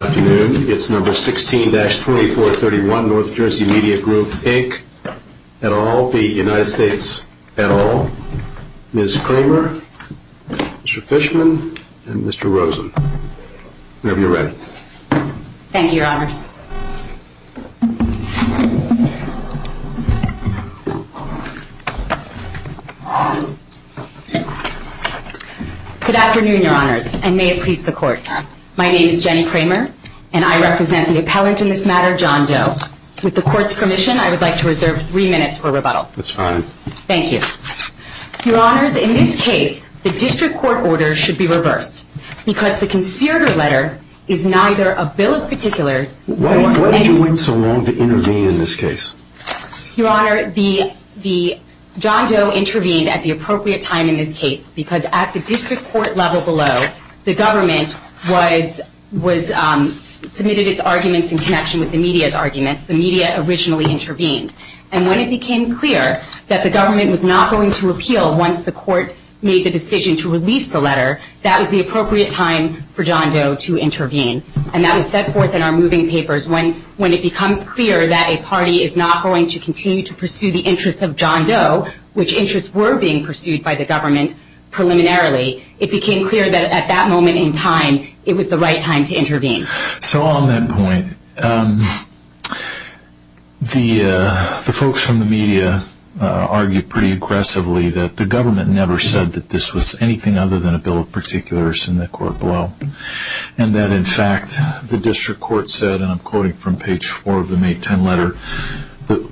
at all, Ms. Kramer, Mr. Fishman, and Mr. Rosen, whenever you're ready. Thank you, Your Honor. Good afternoon, Your Honors, and may it please the Court. My name is Jenny Kramer, and I represent the appellate in this matter, John Doe. With the Court's permission, I would like to reserve three minutes for rebuttal. That's fine. Thank you. Your Honors, in this case, the district court order should be reversed, because the conservative letter is neither a bill of particulars... Why did you wait so long to intervene in this case? Your Honor, the John Doe intervened at the appropriate time in this case, because at the district court level below, the government submitted its arguments in connection with the media's arguments. The media originally intervened. And when it became clear that the government was not going to repeal once the court made the decision to release the letter, that was the appropriate time for John Doe to intervene. And that was set forth in our moving papers. When it becomes clear that a party is not going to continue to pursue the interests of John Doe, which interests were being pursued by the government preliminarily, it became clear that at that moment in time, it was the right time to intervene. So on that point, the folks from the media argued pretty aggressively that the government never said that this was anything other than a bill of particulars in the court below, and that, in fact, the district court said, and I'm quoting from page 4 of the May 10 letter,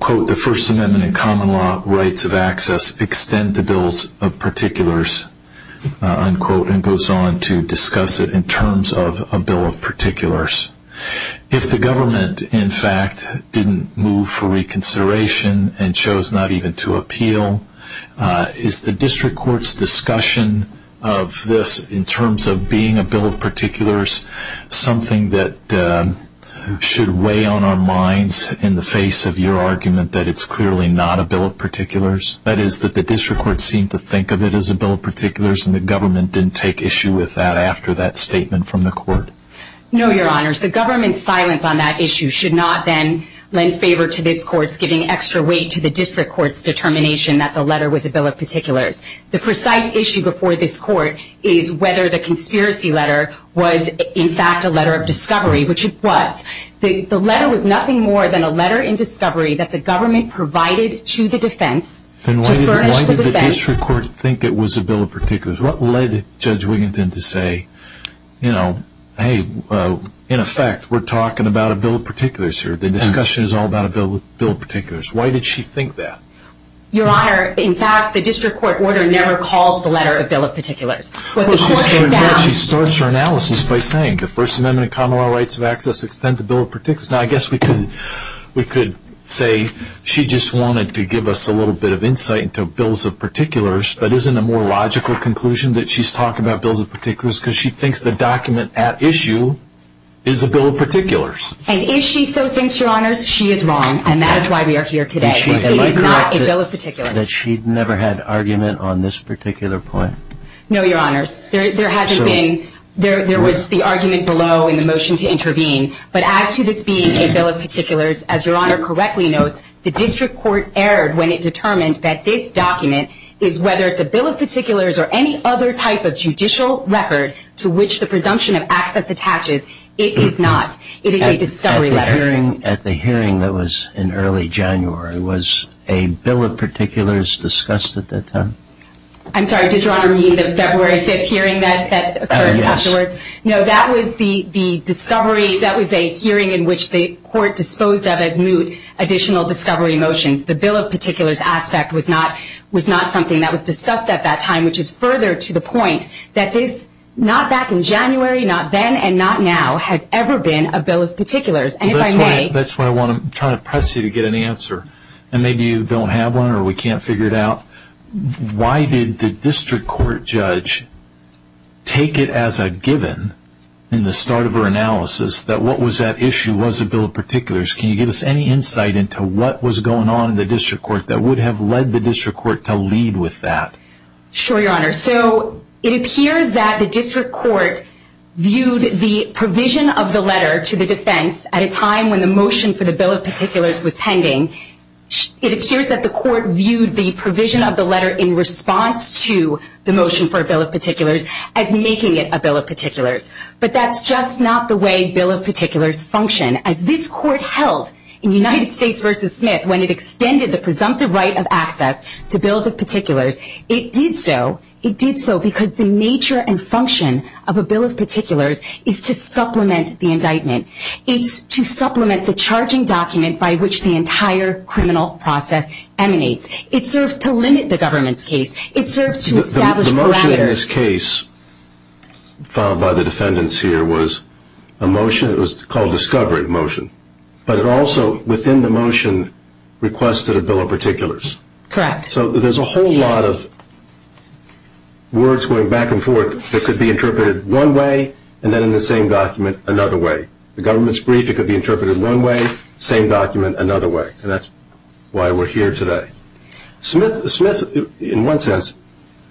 quote, the First Amendment and common law rights of access extend to bills of particulars, unquote, and goes on to discuss it in terms of a bill of particulars. If the government, in fact, didn't move for reconsideration and chose not even to appeal, is the district court's discussion of this in terms of being a bill of particulars something that should weigh on our minds in the face of your argument that it's clearly not a bill of particulars, that is, that the district court seemed to think of it as a bill of particulars and the government didn't take issue with that after that statement from the court? No, Your Honors. The government's silence on that issue should not then lend favor to this court giving extra weight to the district court's determination that the letter was a bill of particulars. The precise issue before this court is whether the conspiracy letter was, in fact, a letter of discovery, which it was. The letter was nothing more than a letter in discovery that the government provided to the defense. Then why did the district court think it was a bill of particulars? What led Judge Wiginton to say, you know, hey, in effect, we're talking about a bill of particulars here. The discussion is all about a bill of particulars. Why did she think that? Your Honor, in fact, the district court order never calls the letter a bill of particulars. She starts her analysis by saying the First Amendment and Common Law Rights of Access extend to bill of particulars. Now, I guess we could say she just wanted to give us a little bit of insight into bills of particulars, but isn't it a more logical conclusion that she's talking about bills of particulars because she thinks the document at issue is a bill of particulars? And if she so thinks, Your Honor, she is wrong, and that is why we are here today. It is not a bill of particulars. That she'd never had argument on this particular point? No, Your Honor. There hasn't been. There was the argument below in the motion to intervene. But as to this being a bill of particulars, as Your Honor correctly knows, the district court erred when it determined that this document is, whether it's a bill of particulars or any other type of judicial record to which the presumption of access attaches, it is not. It is a discovery letter. At the hearing that was in early January, was a bill of particulars discussed at that time? I'm sorry. Did Your Honor mean the February 5th hearing that occurred afterwards? Yes. No, that was the discovery. That was a hearing in which the court disposed of as new additional discovery motions. The bill of particulars aspect was not something that was discussed at that time, which is further to the point that this, not back in January, not then, and not now, has ever been a bill of particulars. And if I may. That's what I want to try to press you to get an answer. And maybe you don't have one or we can't figure it out. Why did the district court judge take it as a given in the start of her analysis that what was that issue was a bill of particulars? Can you give us any insight into what was going on in the district court that would have led the district court to lead with that? Sure, Your Honor. So it appears that the district court viewed the provision of the letter to the defense at a time when the motion for the bill of particulars was pending. It appears that the court viewed the provision of the letter in response to the motion for a bill of particulars as making it a bill of particulars. But that's just not the way bill of particulars function. As this court held in United States v. Smith when it extended the presumptive right of access to bills of particulars, it did so. It did so because the nature and function of a bill of particulars is to supplement the indictment. It's to supplement the charging document by which the entire criminal process emanates. It serves to limit the government's case. It serves to establish parameters. The previous case filed by the defendants here was a motion. It was called discovery motion. But it also, within the motion, requested a bill of particulars. Correct. So there's a whole lot of words going back and forth that could be interpreted one way and then in the same document another way. The government's brief, it could be interpreted one way, same document another way. And that's why we're here today. Smith, in one sense,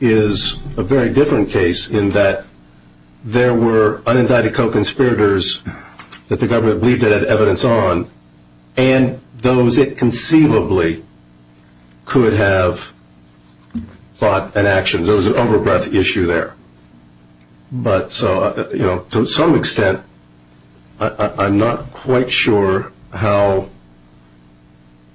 is a very different case in that there were unindicted co-conspirators that the government believed it had evidence on and those it conceivably could have fought an action. There was an overbreath issue there. But, you know, to some extent, I'm not quite sure how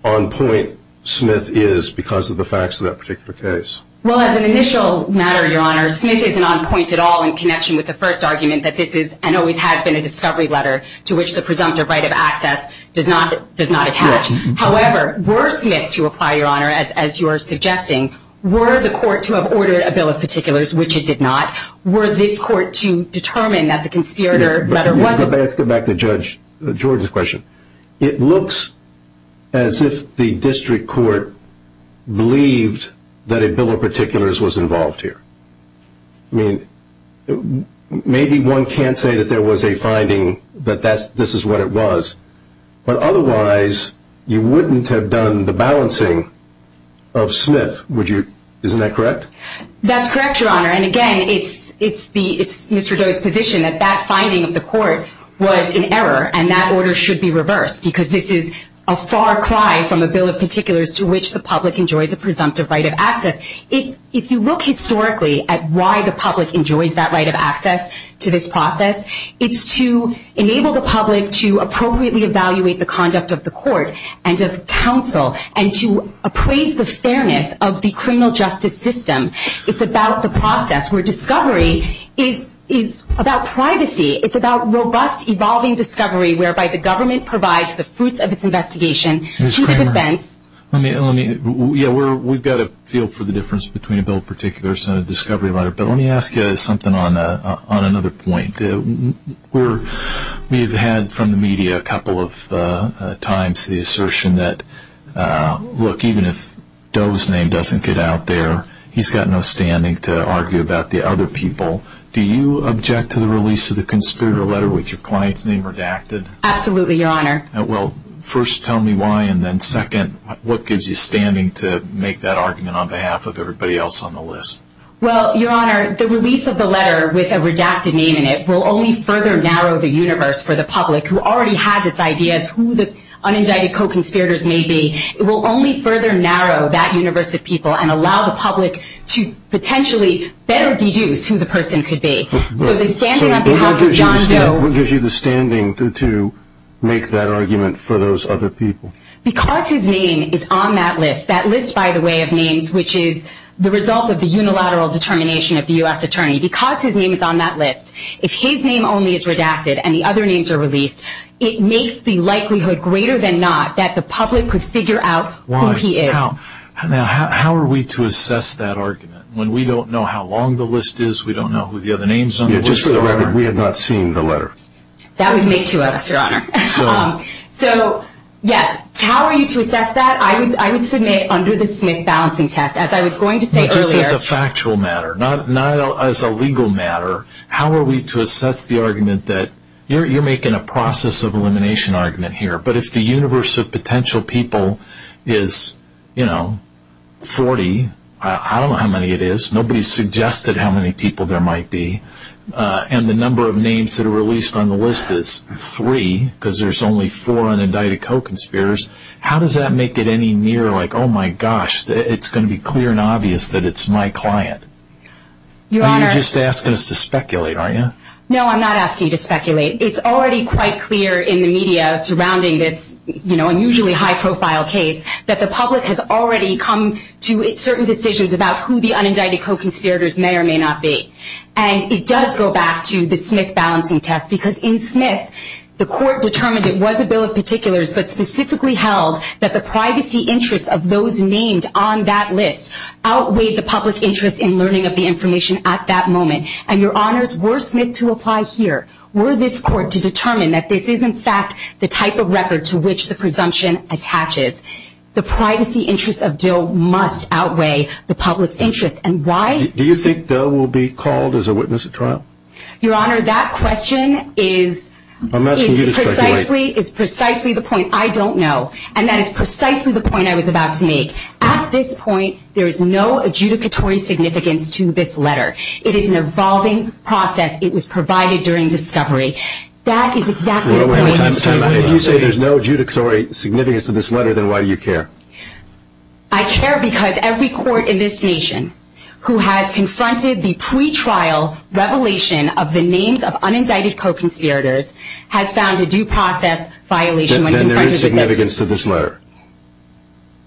on point Smith is because of the facts of that particular case. Well, as an initial matter, Your Honor, Smith is not on point at all in connection with the first argument that this is and always has been a discovery letter to which the presumptive right of access does not attach. However, were Smith, to apply, Your Honor, as you are suggesting, were the court to have ordered a bill of particulars, which it did not, were this court to determine that the conspirator letter wasn't? Let me go back to Judge Jordan's question. It looks as if the district court believed that a bill of particulars was involved here. I mean, maybe one can't say that there was a finding that this is what it was. But otherwise, you wouldn't have done the balancing of Smith, would you? Isn't that correct? That's correct, Your Honor. And, again, it's Mr. Doe's position that that finding of the court was in error and that order should be reversed because this is a far cry from a bill of particulars to which the public enjoyed the presumptive right of access. If you look historically at why the public enjoyed that right of access to this process, it's to enable the public to appropriately evaluate the conduct of the court and of counsel and to appraise the fairness of the criminal justice system. It's about the process where discovery is about privacy. It's about robust, evolving discovery whereby the government provides the fruits of its investigation. Ms. Kramer, let me, yeah, we've got a feel for the difference between a bill of particulars and a discovery letter, but let me ask you something on another point. We've had from the media a couple of times the assertion that, look, even if Doe's name doesn't get out there, he's got no standing to argue about the other people. Do you object to the release of the conspirator letter with your client's name redacted? Absolutely, Your Honor. Well, first, tell me why, and then, second, what gives you standing to make that argument on behalf of everybody else on the list? Well, Your Honor, the release of the letter with a redacted name in it will only further narrow the universe for the public who already has its ideas who the unindicted co-conspirators may be. It will only further narrow that universe of people and allow the public to potentially better deduce who the person could be. So the standing of John Doe. What gives you the standing to make that argument for those other people? Because his name is on that list, that list, by the way, of names, which is the result of the unilateral determination of the U.S. Attorney. Because his name is on that list, if his name only is redacted and the other names are released, it makes the likelihood greater than not that the public could figure out who he is. Now, how are we to assess that argument? When we don't know how long the list is, we don't know who the other names on the list are. We have not seen the letter. That would make you up, Your Honor. So, yes, how are you to assess that? I would submit under the Smith balancing test, as I was going to say earlier. Which is a factual matter, not as a legal matter. How are we to assess the argument that you're making a process of elimination argument here, but if the universe of potential people is, you know, 40, I don't know how many it is. Nobody has suggested how many people there might be. And the number of names that are released on the list is three, because there's only four unindicted co-conspirators. How does that make it any nearer, like, oh, my gosh, it's going to be clear and obvious that it's my client? You're just asking us to speculate, aren't you? No, I'm not asking you to speculate. It's already quite clear in the media surrounding this, you know, unusually high-profile case that the public has already come to certain decisions about who the unindicted co-conspirators may or may not be. And it does go back to the Smith balancing test, because in Smith, the court determined it was a bill of particulars, but specifically held that the privacy interest of those named on that list outweighed the public interest in learning of the information at that moment. And, Your Honors, were Smith to apply here, were this court to determine that this is, in fact, the type of record to which the presumption attaches. The privacy interest of Dill must outweigh the public interest. And why? Do you think Dill will be called as a witness at trial? Your Honor, that question is precisely the point I don't know, and that is precisely the point I was about to make. At this point, there's no adjudicatory significance to this letter. It is an evolving process. It was provided during discovery. That is exactly the point. If you say there's no adjudicatory significance to this letter, then why do you care? I care because every court in this nation who has confronted the pretrial revelation of the names of unindicted co-conspirators has found a due process violation. Then there is significance to this letter.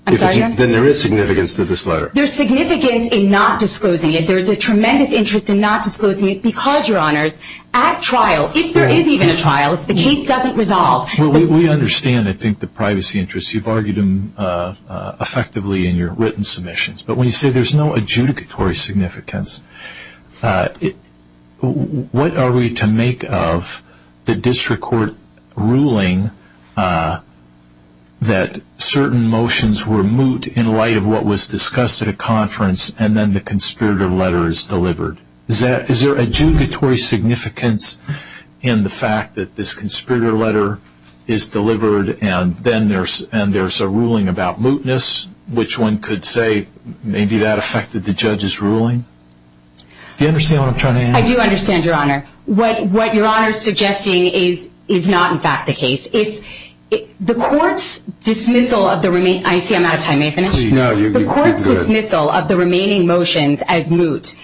I'm sorry? Then there is significance to this letter. There's significance in not disclosing it. There's a tremendous interest in not disclosing it because, Your Honors, at trial, if there is even a trial, the case doesn't resolve. We understand, I think, the privacy interests. You've argued them effectively in your written submissions. But when you say there's no adjudicatory significance, what are we to make of the district court ruling that certain motions were moot in light of what was discussed at a conference and then the conspirator letter is delivered? Is there adjudicatory significance in the fact that this conspirator letter is delivered and then there's a ruling about mootness, which one could say maybe that affected the judge's ruling? Do you understand what I'm trying to answer? I do understand, Your Honor. What Your Honor is suggesting is not, in fact, the case. The court's dismissal of the remaining motions as moot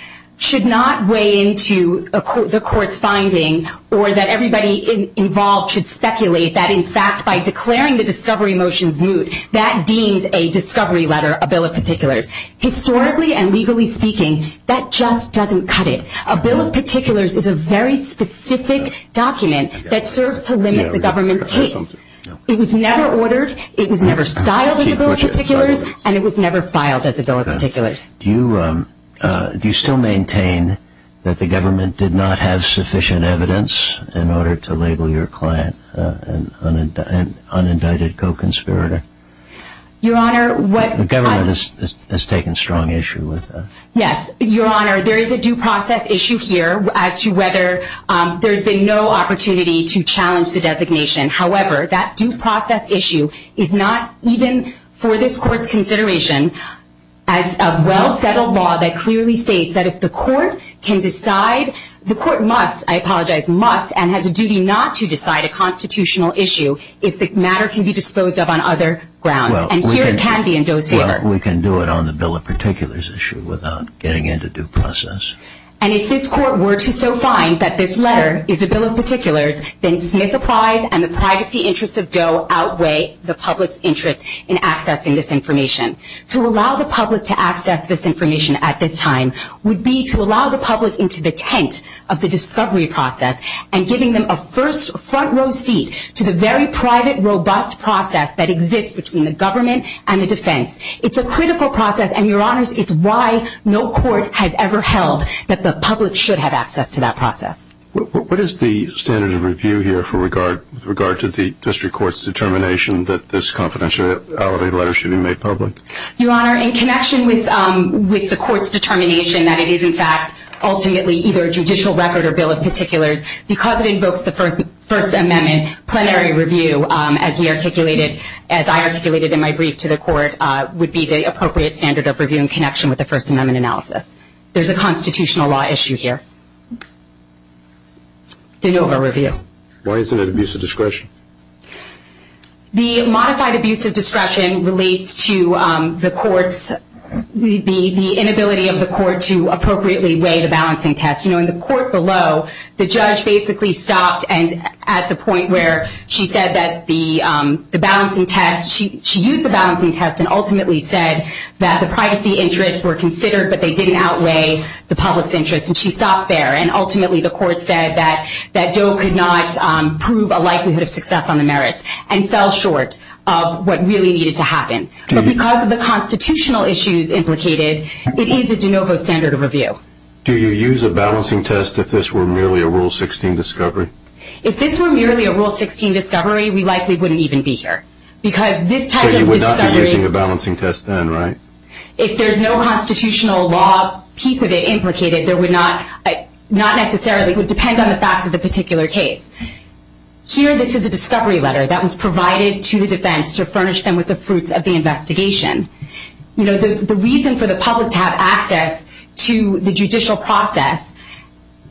should not weigh into the court's findings or that everybody involved should speculate that, in fact, by declaring the discovery motions moot, that deems a discovery letter a bill of particulars. Historically and legally speaking, that just doesn't cut it. A bill of particulars is a very specific document that serves to limit the government's case. It was never ordered, it was never filed as a bill of particulars, and it was never filed as a bill of particulars. Do you still maintain that the government did not have sufficient evidence in order to label your client an unindicted co-conspirator? Your Honor, what- The government has taken strong issue with that. Yes, Your Honor. There is a due process issue here as to whether there's been no opportunity to challenge the designation. However, that due process issue is not even, for this Court's consideration, a well-settled law that clearly states that if the Court can decide- the Court must, I apologize, must, and has a duty not to decide a constitutional issue if the matter can be disposed of on other grounds. Well, we can do it on the bill of particulars issue without getting into due process. And if this Court were to so find that this letter is a bill of particulars, then dismiss applies and the privacy interests of Doe outweigh the public's interest in accessing this information. To allow the public to access this information at this time would be to allow the public into the tent of the discovery process and giving them a first front row seat to the very private, robust process that exists between the government and the defense. It's a critical process and, Your Honors, it's why no court has ever held that the public should have access to that process. What is the standard of review here with regard to the district court's determination that this confidentiality letter should be made public? Your Honor, in connection with the Court's determination that it is, in fact, ultimately either a judicial record or bill of particulars, because it invokes the First Amendment, and plenary review, as we articulated, as I articulated in my brief to the Court, would be the appropriate standard of reviewing in connection with the First Amendment analysis. There's a constitutional law issue here. De novo review. Why isn't it abuse of discretion? The modified abuse of discretion relates to the Court's, the inability of the Court to appropriately weigh the balance in tests. You know, in the Court below, the judge basically stopped at the point where she said that the balancing test, she used the balancing test and ultimately said that the privacy interests were considered, but they didn't outweigh the public's interest, and she stopped there. And ultimately the Court said that Doe could not prove a likelihood of success on the merits and fell short of what really needed to happen. But because of the constitutional issues implicated, it is a de novo standard of review. Do you use a balancing test if this were merely a Rule 16 discovery? If this were merely a Rule 16 discovery, we likely wouldn't even be here. So you would not be using a balancing test then, right? If there's no constitutional law piece of it implicated, it would depend on the facts of the particular case. Here this is a discovery letter that was provided to the defense to furnish them with the fruits of the investigation. You know, the reason for the public to have access to the judicial process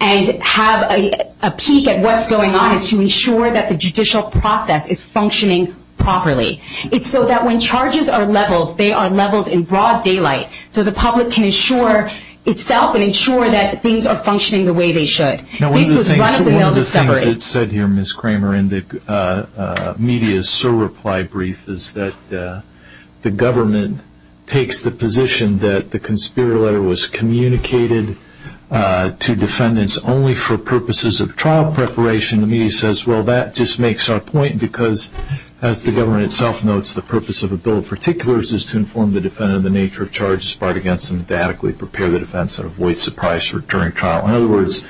and have a peek at what's going on is to ensure that the judicial process is functioning properly. It's so that when charges are leveled, they are leveled in broad daylight, so the public can ensure itself and ensure that things are functioning the way they should. One of the things that was said here, Ms. Kramer, in the media's SOAR reply brief, is that the government takes the position that the conspirator letter was communicated to defendants only for purposes of trial preparation. The media says, well, that just makes our point because, as the government itself notes, the purpose of a bill of particulars is to inform the defendant of the nature of charges brought against them, to adequately prepare the defense and avoid surprise during trial. In other words,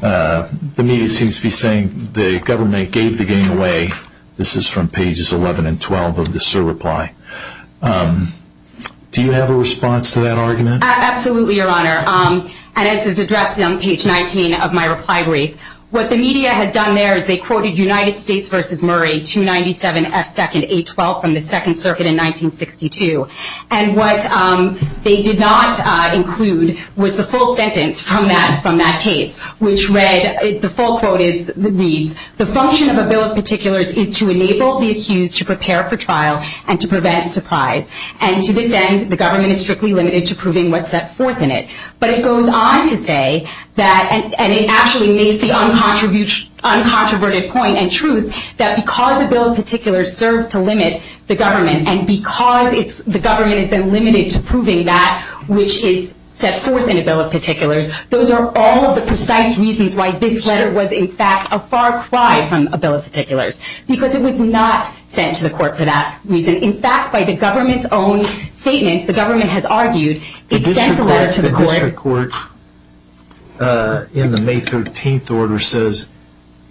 the media seems to be saying the government gave the giving away. This is from pages 11 and 12 of the SOAR reply. Do you have a response to that argument? Absolutely, Your Honor, and as is addressed on page 19 of my reply brief. What the media has done there is they quoted United States v. Murray 297S2ndA12 from the Second Circuit in 1962. And what they did not include was the full sentence from that case, which read, the full quote reads, the function of a bill of particulars is to enable the accused to prepare for trial and to prevent surprise. And to this end, the government is strictly limited to proving what's at force in it. But it goes on to say, and it actually makes the uncontroverted point and truth, that because a bill of particulars serves to limit the government, and because the government has been limited to proving that which is set forth in a bill of particulars, those are all the precise reasons why this letter was, in fact, a far cry from a bill of particulars. Because it was not sent to the court for that reason. In fact, by the government's own statement, the government has argued, it sent the letter to the court. The Supreme Court, in the May 13th order, says,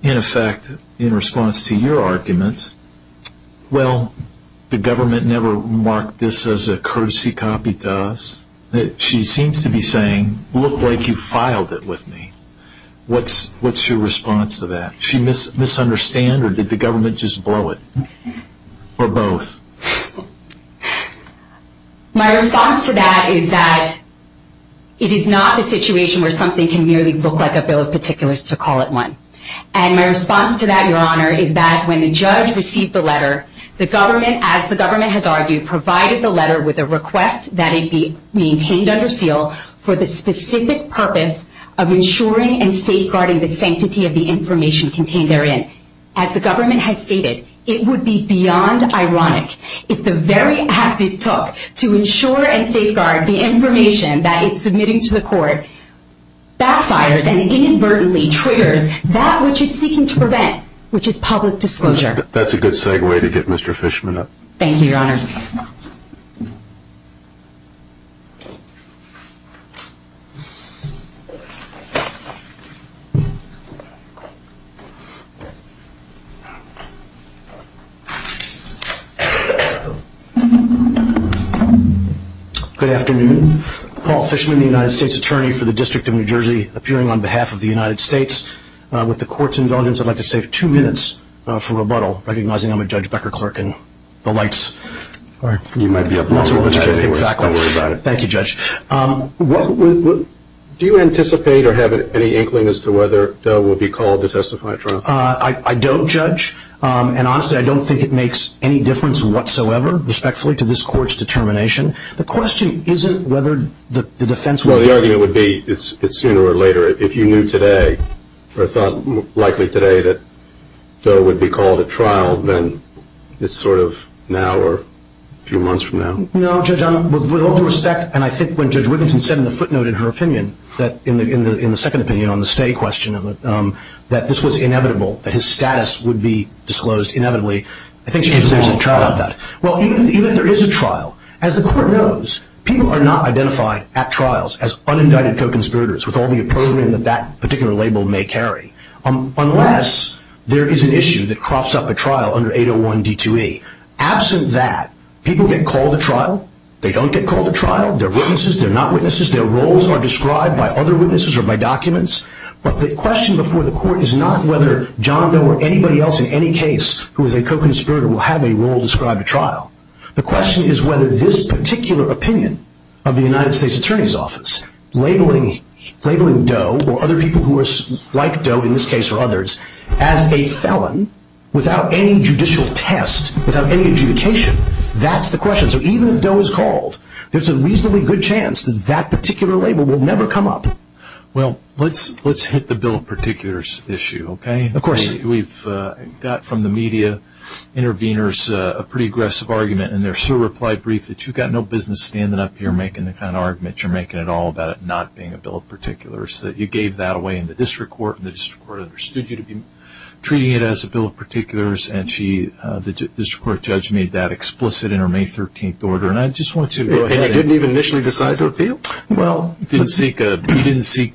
in effect, in response to your arguments, well, the government never marked this as a courtesy copy to us. She seems to be saying, look like you filed it with me. What's your response to that? Did she misunderstand or did the government just blow it? Or both? My response to that is that it is not a situation where something can merely look like a bill of particulars to call it one. And my response to that, Your Honor, is that when the judge received the letter, the government, as the government has argued, provided the letter with a request that it be maintained under seal for the specific purpose of ensuring and safeguarding the sanctity of the information contained therein. As the government has stated, it would be beyond ironic if the very act it took to ensure and safeguard the information that it's submitting to the court backfires and inadvertently triggers that which it's seeking to prevent, which is public disclosure. That's a good segue to get Mr. Fishman up. Thank you, Your Honor. Good afternoon. Paul Fishman, the United States Attorney for the District of New Jersey, appearing on behalf of the United States with the court's indulgence, I'd like to save two minutes for rebuttal, recognizing I'm with Judge Becker-Clark and the lights. You might be up next. Thank you, Judge. Do you anticipate or have any inkling as to whether a bill will be called to testify, Your Honor? I don't, Judge. And honestly, I don't think it makes any difference whatsoever, respectfully, to this court's determination. The question isn't whether the defense will be called. Well, the idea would be it's sooner or later. If you knew today or thought likely today that a bill would be called at trial, then it's sort of now or a few months from now. No, Judge, with all due respect, and I think when Judge Rickinson said in the footnote of her opinion, in the second opinion on the stay question of it, that this was inevitable, that his status would be disclosed inevitably, I think she could potentially trial that. Well, even if there is a trial, as the court knows, people are not identifying at trials as unindicted co-conspirators with all the opposition that that particular label may carry, unless there is an issue that crops up a trial under 801 D2E. Absent that, people get called to trial. They don't get called to trial. They're witnesses. They're not witnesses. Their roles are described by other witnesses or by documents. But the question before the court is not whether John Doe or anybody else in any case who is a co-conspirator will have a role described at trial. The question is whether this particular opinion of the United States Attorney's Office labeling Doe or other people who are like Doe, in this case or others, as a felon without any judicial test, without any adjudication, that's the question. So even if Doe is called, there's a reasonably good chance that that particular label will never come up. Well, let's hit the bill of particulars issue, okay? Of course. We've got from the media interveners a pretty aggressive argument, and there's a reply brief that you've got no business standing up here making that kind of argument. You're making it all about it not being a bill of particulars. You gave that away in the district court, and the district court understood you to be treating it as a bill of particulars, and the district court judge made that explicit in her May 13th order. And I just want you to go ahead. And I didn't even initially decide to appeal? Well, you didn't seek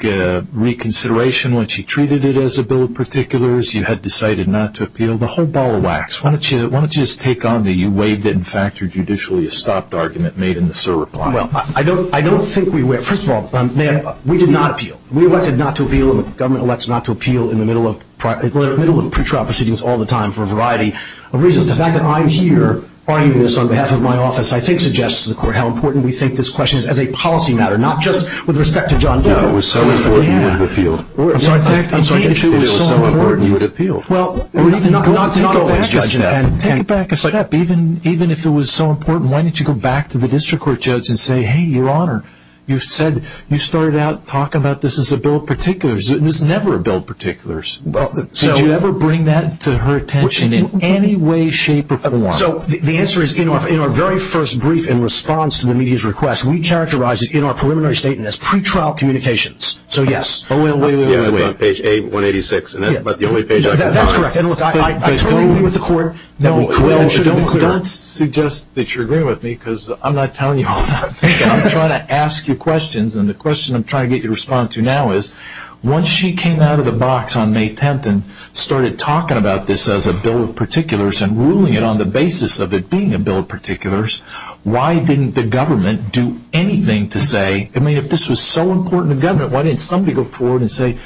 reconsideration when she treated it as a bill of particulars. You had decided not to appeal. The whole ball of wax. Why don't you just take on the you waived it and factored judicially a stopped argument made in the SIR reply? Well, I don't think we were. First of all, we did not appeal. The government elects not to appeal in the middle of pretrial proceedings all the time for a variety of reasons. The fact that I'm here arguing this on behalf of my office, I think, suggests to the court how important we think this question is as a policy matter, not just with respect to John Doe. Yeah, it was so important you had appealed. I'm sorry. I'm sorry. It was so important you had appealed. Well, we need to not take a back step. Take a back step. Even if it was so important, why didn't you go back to the district court judge and say, hey, Your Honor, you said you started out talking about this as a bill of particulars. It was never a bill of particulars. Did you ever bring that to her attention in any way, shape, or form? So the answer is in our very first brief in response to the media's request, we characterized it in our preliminary statement as pretrial communications. So, yes. Oh, wait, wait, wait, wait, wait. It's on page 186, and that's about the only page I've got. That's correct. And look, I agree with the court. Don't suggest that you're agreeing with me because I'm not telling you how to do it. I'm trying to ask you questions, and the question I'm trying to get your response to now is, once she came out of the box on May 10th and started talking about this as a bill of particulars and ruling it on the basis of it being a bill of particulars, why didn't the government do anything to say, I mean, if this was so important to government, why didn't somebody go forward and say,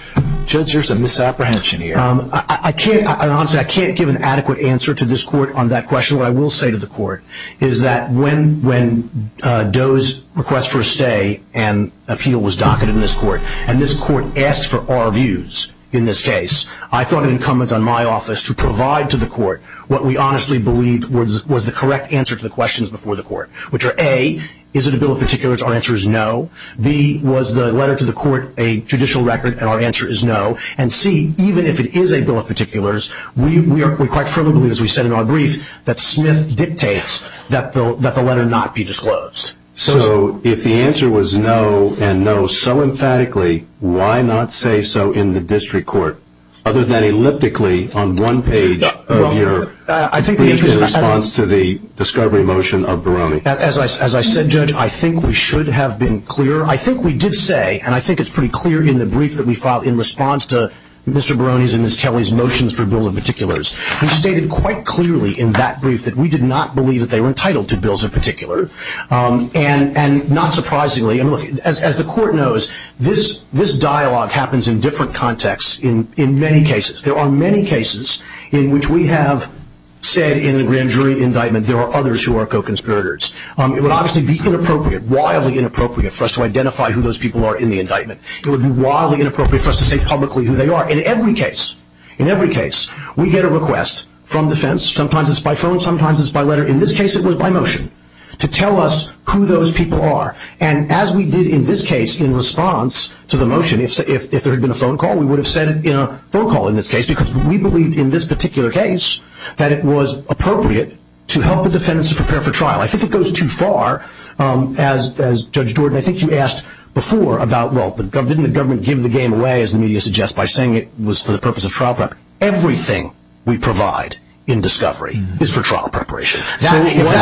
Judge, there's a misapprehension here? I can't give an adequate answer to this court on that question. What I will say to the court is that when Doe's request for a stay and appeal was docketed in this court and this court asked for our views in this case, I thought it incumbent on my office to provide to the court what we honestly believed was the correct answer to the questions before the court, which are, A, is it a bill of particulars? Our answer is no. B, was the letter to the court a judicial record? Our answer is no. And C, even if it is a bill of particulars, we quite firmly believe, as we said in our brief, that Smith dictates that the letter not be disclosed. So if the answer was no and no so emphatically, why not say so in the district court, other than elliptically on one page of your brief in response to the discovery motion of Barone? As I said, Judge, I think we should have been clear. I think we did say, and I think it's pretty clear in the brief that we filed in response to Mr. Barone's and Ms. Kelly's motions for bill of particulars. We stated quite clearly in that brief that we did not believe that they were entitled to bills of particular. And not surprisingly, as the court knows, this dialogue happens in different contexts in many cases. There are many cases in which we have said in the grand jury indictment there are others who are co-conspirators. It would obviously be inappropriate, wildly inappropriate, for us to identify who those people are in the indictment. It would be wildly inappropriate for us to say publicly who they are. In every case, in every case, we get a request from defense. Sometimes it's by phone, sometimes it's by letter. In this case it was by motion to tell us who those people are. And as we did in this case in response to the motion, if there had been a phone call, we would have said a phone call in this case because we believed in this particular case that it was appropriate to help the defense prepare for trial. I think it goes too far, as Judge Gordon, I think you asked before about, well, didn't the government give the game away, as the media suggests, by saying it was for the purpose of trial preparation? Everything we provide in discovery is for trial preparation. That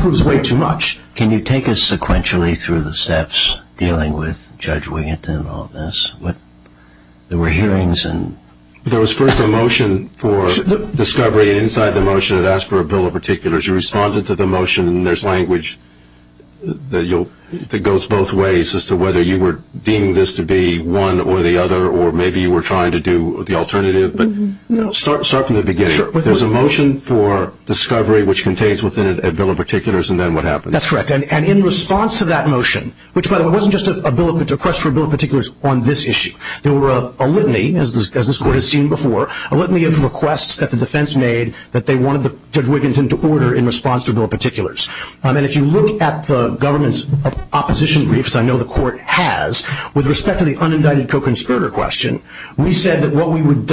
proves way too much. Can you take us sequentially through the steps dealing with Judge Wiginton and all of this? There were hearings and... There was first a motion for discovery inside the motion that asked for a bill of particulars. You responded to the motion. And there's language that goes both ways as to whether you were deeming this to be one or the other or maybe you were trying to do the alternative. But start from the beginning. There's a motion for discovery, which contains a bill of particulars, and then what happens? That's correct. And in response to that motion, which, by the way, wasn't just a request for a bill of particulars on this issue. There were a litany, as this court has seen before, a litany of requests that the defense made that they wanted Judge Wiginton to order in response to bill of particulars. And if you look at the government's opposition briefs, I know the court has, with respect to the unindicted co-conspirator question, we said that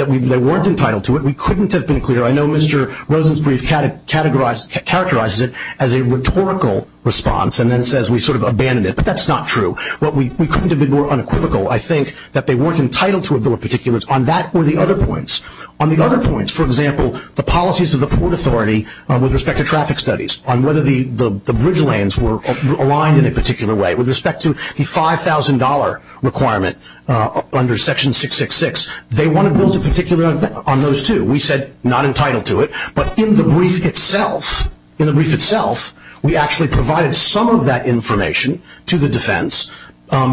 they weren't entitled to it. We couldn't have been clear. I know Mr. Rosen's brief characterizes it as a rhetorical response and then says we sort of abandoned it. But that's not true. We couldn't have been more unequivocal. I think that they weren't entitled to a bill of particulars. On that were the other points. On the other points, for example, the policies of the Port Authority with respect to traffic studies, on whether the bridge lanes were aligned in a particular way, with respect to the $5,000 requirement under Section 666, they wanted rules of particulars on those too. We said not entitled to it. But in the brief itself, in the brief itself, we actually provided some of that information to the defense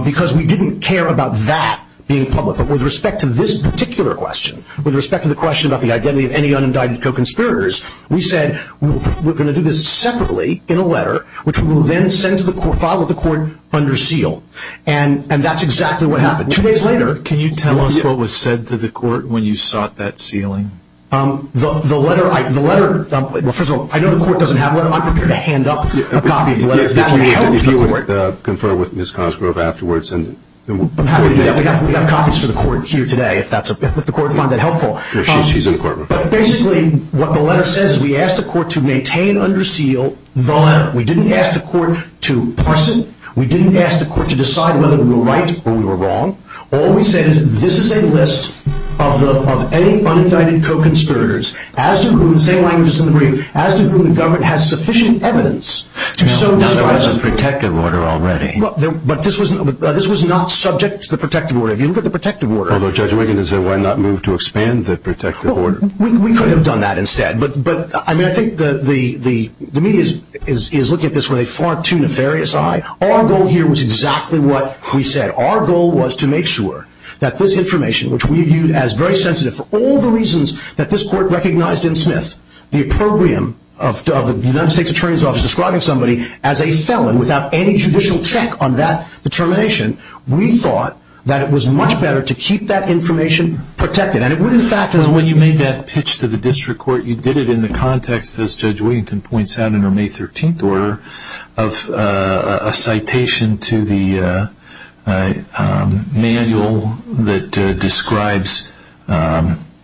because we didn't care about that being public. But with respect to this particular question, with respect to the question about the identity of any unindicted co-conspirators, we said we're going to do this separately in a letter, which we will then send to the court, file with the court under seal. And that's exactly what happened. Two days later. Can you tell us what was said to the court when you sought that sealing? The letter, the letter, well, first of all, I know the court doesn't have that. I'm prepared to hand up a copy of the letter. You can confer with Ms. Cosgrove afterwards. We've got copies for the court here today, if the court finds that helpful. She's in the courtroom. But basically what the letter says is we asked the court to maintain under seal, we didn't ask the court to parse it, we didn't ask the court to decide whether we were right or we were wrong. All we said is this is a list of any unindicted co-conspirators, as to whom the government has sufficient evidence to so do this. Now, the court has a protective order already. But this was not subject to the protective order. If you look at the protective order. Although Judge Wiggin has said why not move to expand the protective order? We could have done that instead. But I think the media is looking at this with a far too nefarious eye. Our goal here was exactly what we said. Our goal was to make sure that this information, which we viewed as very sensitive for all the reasons that this court recognized in Smith, the opprobrium of the United States Attorney's Office describing somebody as a felon, without any judicial check on that determination, we thought that it was much better to keep that information protected. And it was in fact when you made that pitch to the district court, you did it in the context, as Judge Wiggin points out in her May 13th order, of a citation to the manual that describes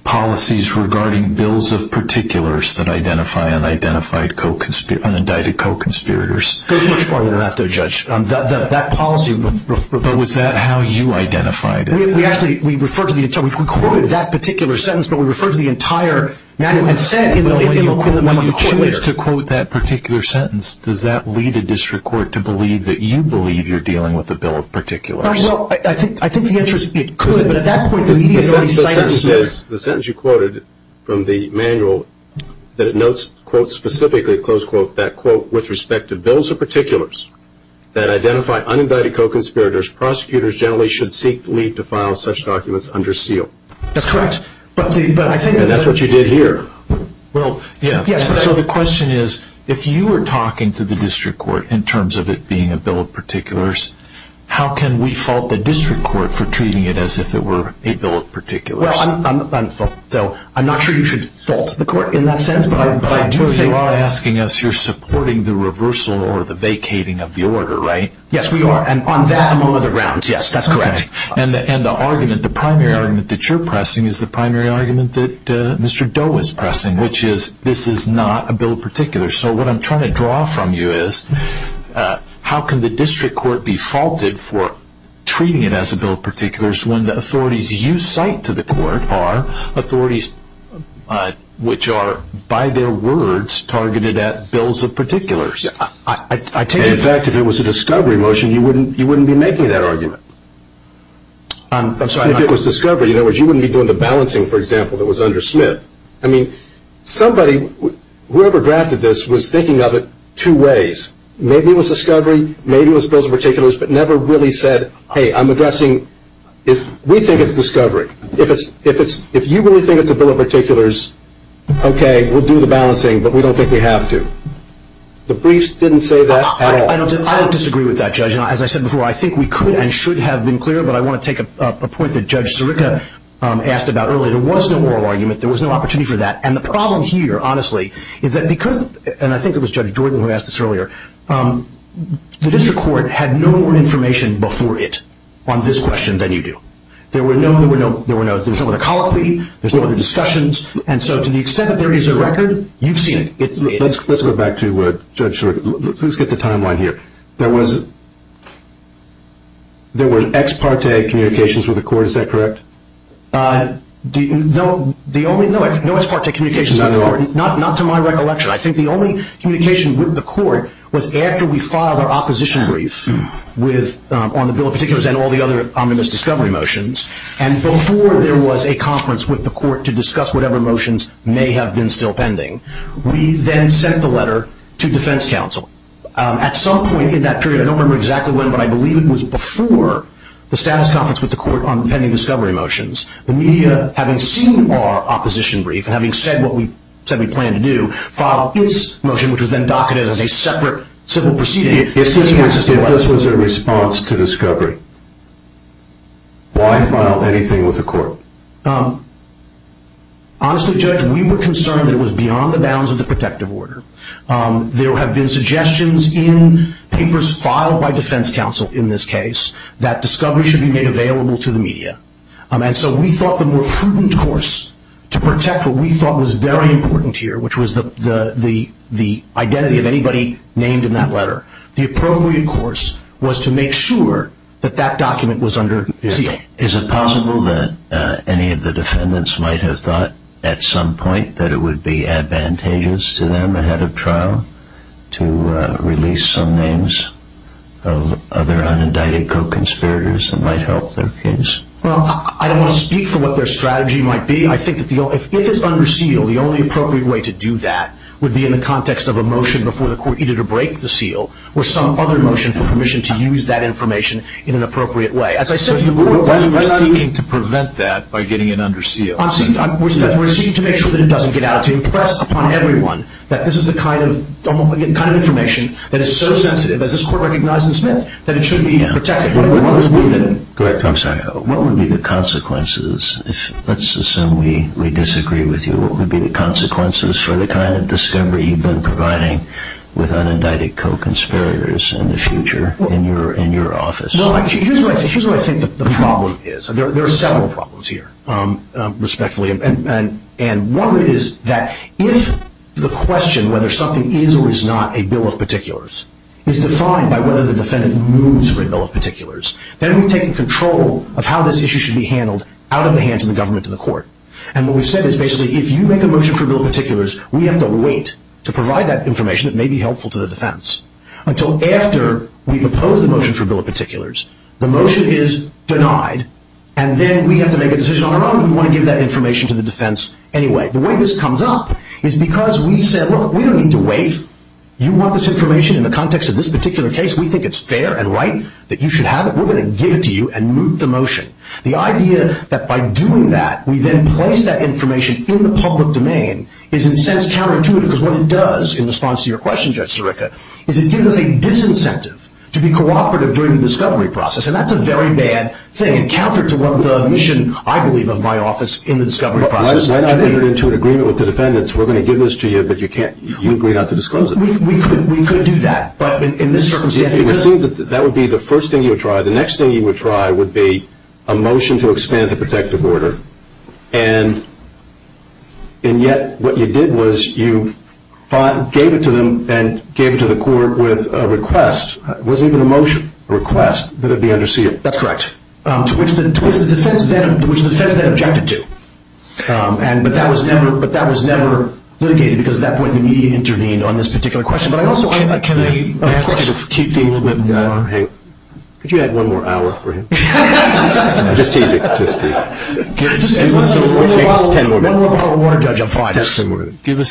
policies regarding bills of particulars that identify unidentified co-conspirators, unindicted co-conspirators. That policy was referred to. But was that how you identified it? We referred to the entire, we quoted that particular sentence, but we referred to the entire matter of consent. When you choose to quote that particular sentence, does that lead the district court to believe that you believe you're dealing with a bill of particulars? I think the answer is it could, but at that point you need a citation. The sentence you quoted from the manual that notes, quote, specifically, close quote, that quote, with respect to bills of particulars that identify unindicted co-conspirators, prosecutors generally should seek leave to file such documents under seal. That's correct. But I think that that's what you did here. So the question is, if you were talking to the district court in terms of it being a bill of particulars, how can we fault the district court for treating it as if it were a bill of particulars? I'm not sure you should fault the court in that sense. You are asking us, you're supporting the reversal or the vacating of the order, right? Yes, we are, and on that and on other grounds, yes, that's correct. And the argument, the primary argument that you're pressing is the primary argument that Mr. Doe is pressing, which is this is not a bill of particulars. So what I'm trying to draw from you is how can the district court be faulted for treating it as a bill of particulars when the authorities you cite to the court are authorities which are, by their words, targeted at bills of particulars? In fact, if it was a discovery motion, you wouldn't be making that argument. If it was discovery, in other words, you wouldn't be doing the balancing, for example, that was under Smith. I mean, somebody, whoever drafted this, was thinking of it two ways. Maybe it was discovery, maybe it was bills of particulars, but never really said, hey, I'm addressing, we think it's discovery. If you really think it's a bill of particulars, okay, we'll do the balancing, but we don't think we have to. The briefs didn't say that at all. I don't disagree with that, Judge. As I said before, I think we could and should have been clear, but I want to take a point that Judge Sirica asked about earlier. There was no moral argument. There was no opportunity for that. And the problem here, honestly, is that because, and I think it was Judge Jordan who asked this earlier, the district court had no more information before it on this question than you do. There were no, there were no, there's no more colloquy, there's no more discussions. And so to the extent that there is a record, you've seen it. Let's go back to Judge Sirica. Let's get the timeline here. There was, there was ex parte communications with the court, is that correct? No, the only, no ex parte communications with the court, not to my recollection. I think the only communication with the court was after we filed our opposition brief with, on the bill of particulars and all the other omnibus discovery motions, and before there was a conference with the court to discuss whatever motions may have been still pending. We then sent the letter to defense counsel. At some point in that period, I don't remember exactly when, but I believe it was before the status conference with the court on pending discovery motions, the media, having seen our opposition brief and having said what we said we planned to do, filed this motion, which was then docketed as a separate civil proceeding. If this was a response to discovery, why file anything with the court? Honestly, Judge, we were concerned it was beyond the bounds of the protective order. There have been suggestions in papers filed by defense counsel, in this case, that discovery should be made available to the media. And so we thought the more prudent course to protect what we thought was very important here, which was the identity of anybody named in that letter, the appropriate course was to make sure that that document was under seal. Is it possible that any of the defendants might have thought at some point that it would be advantageous to them, ahead of trial, to release some names of their unindicted co-conspirators that might help their case? Well, I don't want to speak for what their strategy might be. I think if it is under seal, the only appropriate way to do that would be in the context of a motion before the court either to break the seal or some other motion for permission to use that information in an appropriate way. As I said, we're seeking to prevent that by getting it under seal. We're seeking to make sure that it doesn't get out to impress upon everyone that this is the kind of information that is so sensitive, that this court recognizes this myth, that it should be protected. What would be the consequences? Let's assume we disagree with you. What would be the consequences for the kind of discovery you've been providing with unindicted co-conspirators in the future in your office? Here's what I think the problem is. There are several problems here, respectfully. One is that if the question whether something is or is not a bill of particulars is defined by whether the defendant moves for a bill of particulars, then we've taken control of how this issue should be handled out of the hands of the government and the court. What we've said is basically if you make a motion for a bill of particulars, we have to wait to provide that information that may be helpful to the defense until after we propose a motion for a bill of particulars. The motion is denied, and then we have to make a decision on our own if we want to give that information to the defense anyway. The way this comes up is because we said, look, we don't need to wait. You want this information in the context of this particular case. We think it's fair and right that you should have it. We're going to give it to you and move the motion. The idea that by doing that, we then place that information in the public domain is in a sense counterintuitive because what it does in response to your question, Justice Eureka, is it gives us a disincentive to be cooperative during the discovery process, and that's a very bad thing and counter to the mission, I believe, of my office in the discovery process. When I bring it into agreement with the defendants, we're going to give this to you, but you agree not to disclose it. We could do that, but in this circumstance... That would be the first thing you would try. The next thing you would try would be a motion to expand the protective order, and yet what you did was you gave it to them and gave it to the court with a request. It wasn't even a motion, a request, that it be under seated. That's correct. To which the defense then objected to, but that was never litigated because at that point the media intervened on this particular question. But I also have a question. Could you add one more hour for him? Give us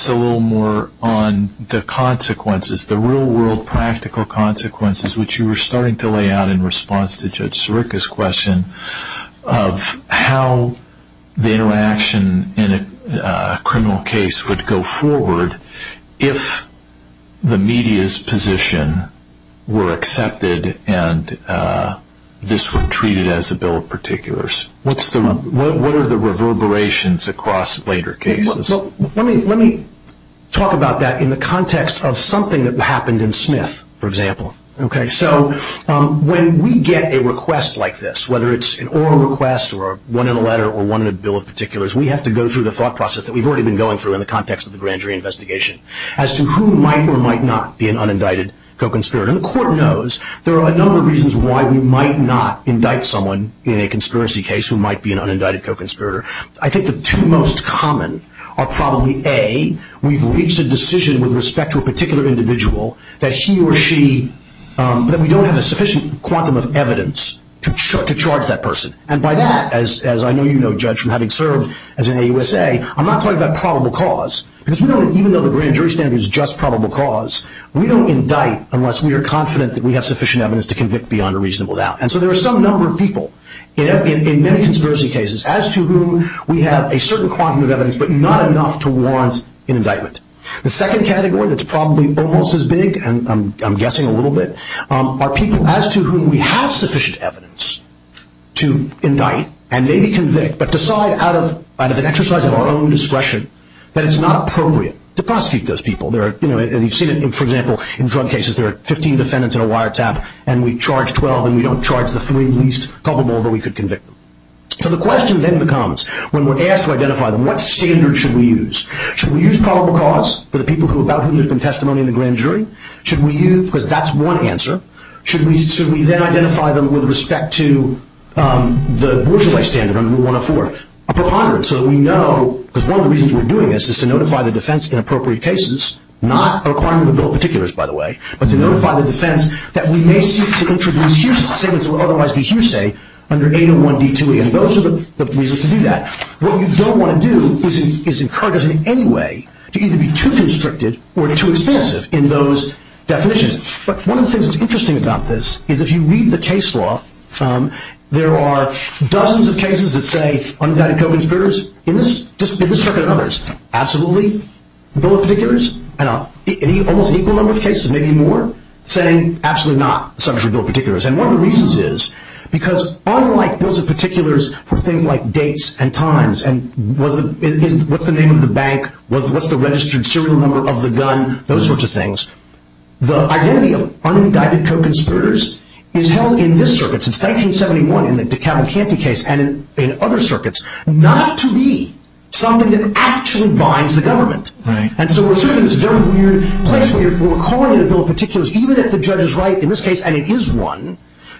a little more on the consequences, the real-world practical consequences, which you were starting to lay out in response to Judge Sirica's question of how the interaction in a criminal case would go forward if the media's position were accepted and this were treated as a bill of particulars. What are the reverberations across later cases? Let me talk about that in the context of something that happened in Smith, for example. When we get a request like this, whether it's an oral request or one in a letter or one in a bill of particulars, we have to go through the thought process that we've already been going through in the context of the grand jury investigation as to who might or might not be an unindicted co-conspirator. The court knows there are a number of reasons why we might not indict someone in a conspiracy case who might be an unindicted co-conspirator. I think the two most common are probably, A, we've reached a decision with respect to a particular individual that he or she, that we don't have a sufficient quantum of evidence to charge that person. And by that, as I know you know, Judge, from having served as an AUSA, I'm not talking about probable cause. Because even though the grand jury standard is just probable cause, we don't indict unless we are confident that we have sufficient evidence to convict beyond a reasonable doubt. And so there are some number of people in many conspiracy cases as to who we have a certain quantum of evidence but not enough to warrant an indictment. The second category that's probably almost as big, and I'm guessing a little bit, are people as to who we have sufficient evidence to indict and maybe convict but decide out of an exercise of our own discretion that it's not appropriate to prosecute those people. And you've seen it, for example, in drug cases, there are 15 defendants in a wiretap and we charge 12 and we don't charge the three least probable that we could convict. So the question then becomes, when we're asked to identify what standard should we use, should we use probable cause for the people about whom there's been testimony in the grand jury? Should we use, because that's one answer, should we then identify them with respect to the bourgeois standard under Rule 104, a preponderance so that we know, because one of the reasons we're doing this is to notify the defense in appropriate cases, not a requirement of the bill of particulars, by the way, but to notify the defense that we may seek to introduce huge statements that would otherwise be huge, say, under 801B2E. And those are the reasons to do that. What we don't want to do is encourage us in any way to either be too constricted or too expansive in those definitions. But one of the things that's interesting about this is if you read the case law, there are dozens of cases that say undetected co-conspirators in this circuit and others. Absolutely, bill of particulars. Almost equal number of cases, maybe more, saying absolutely not subject to bill of particulars. And one of the reasons is because unlike bills of particulars for things like dates and times and what's the name of the bank, what's the registered serial number of the gun, those sorts of things, the identity of undetected co-conspirators is held in this circuit. It's 1971 in the DeKalb-Campey case and in other circuits, not to be something that actually binds the government. And so we're seeing this very weird place where if we're calling it a bill of particulars, even if the judge is right in this case, and it is one,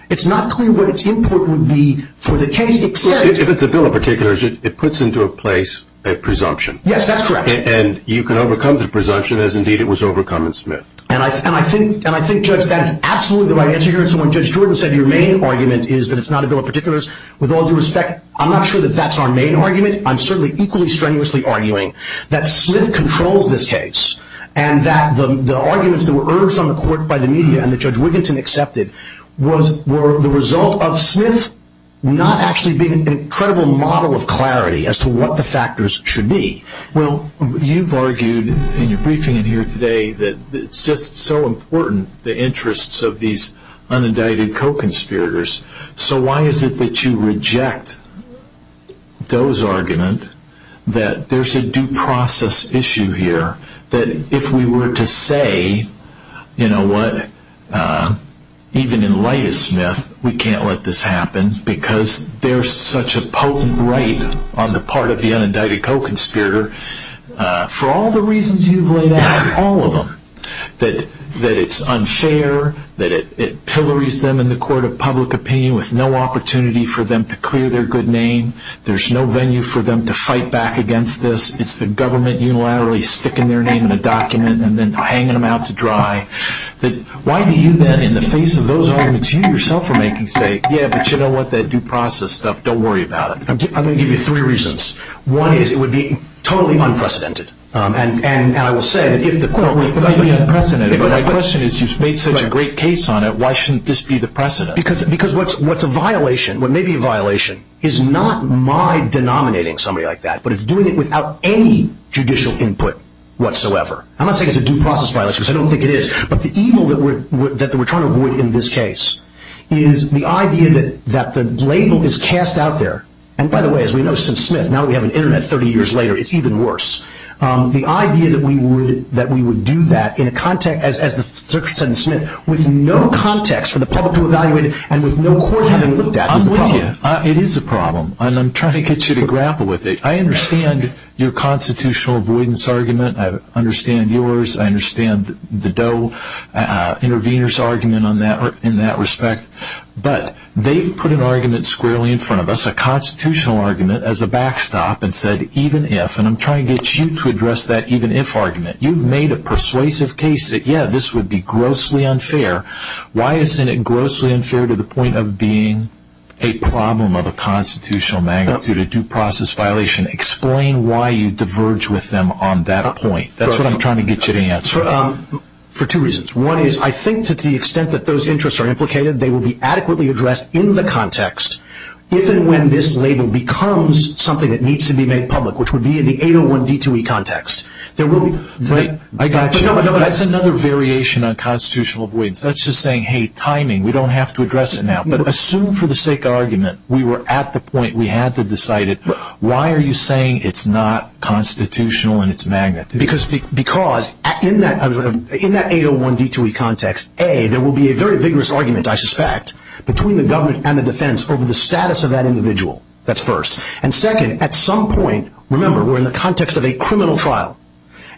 it's not clear what its input would be for the case to play. If it's a bill of particulars, it puts into a place a presumption. Yes, that's correct. And you can overcome the presumption as, indeed, it was overcome in Smith. And I think Judge got absolutely the right answer here. Judge Jordan said your main argument is that it's not a bill of particulars. With all due respect, I'm not sure that that's our main argument. I'm certainly equally strenuously arguing that Smith controlled this case and that the arguments that were urged on the court by the media and that Judge Wiginton accepted were the result of Smith not actually being an incredible model of clarity as to what the factors should be. Well, you've argued in your briefing here today that it's just so important, the interests of these unindicted co-conspirators. So why is it that you reject those arguments, that there's a due process issue here, that if we were to say, you know what, even in light of Smith, we can't let this happen, because there's such a potent weight on the part of the unindicted co-conspirator, for all the reasons you've laid out, all of them, that it's unfair, that it pillories them in the court of public opinion with no opportunity for them to clear their good name, there's no venue for them to fight back against this, it's the government unilaterally sticking their name in a document and then hanging them out to dry. Why do you then, in the face of those arguments you yourself are making, say, yeah, but you know what, that due process stuff, don't worry about it. I'm going to give you three reasons. One is it would be totally unprecedented. And I will say, if the court were totally unprecedented, but the question is you've made such a great case on it, why shouldn't this be the precedent? Because what's a violation, what may be a violation, is not my denominating somebody like that, but it's doing it without any judicial input whatsoever. I'm not saying it's a due process violation, because I don't think it is, but the evil that we're trying to avoid in this case is the idea that the label is cast out there, and by the way, as we know since Smith, now we have an Internet 30 years later, it's even worse. The idea that we would do that in a context, as the circuit said in Smith, with no context for the public to evaluate it and with no court having looked at it. I'm with you, it is a problem, and I'm trying to get you to grapple with it. I understand your constitutional avoidance argument, I understand yours, I understand the Doe intervener's argument in that respect, but they've put an argument squarely in front of us, a constitutional argument as a backstop, and said even if, and I'm trying to get you to address that even if argument. You've made a persuasive case that yeah, this would be grossly unfair. Why isn't it grossly unfair to the point of being a problem of a constitutional magnitude, a due process violation? Explain why you diverge with them on that point. That's what I'm trying to get you to answer. For two reasons. One is I think to the extent that those interests are implicated, they will be adequately addressed in the context, even when this label becomes something that needs to be made public, which would be in the 801D2E context. I got you. That's another variation on constitutional avoidance. That's just saying hey, timing, we don't have to address it now. But assume for the sake of argument, we were at the point, we had to decide it. Why are you saying it's not constitutional in its magnitude? Because in that 801D2E context, A, there will be a very vigorous argument, I suspect, between the government and the defense over the status of that individual. That's first. And second, at some point, remember, we're in the context of a criminal trial.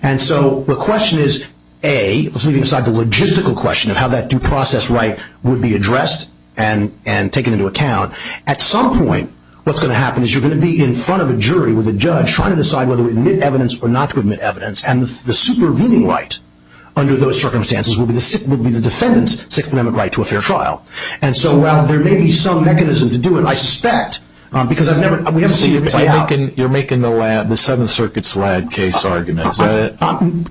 And so the question is, A, let's leave aside the logistical question of how that due process right would be addressed and taken into account. At some point what's going to happen is you're going to be in front of a jury with a judge trying to decide whether to admit evidence or not to admit evidence. And the supervening right under those circumstances would be the defendant's secondament right to a fair trial. And so while there may be some mechanisms to do it, I suspect, because I've never seen it play out. You're making the Seventh Circuit's Ladd case argument. I'm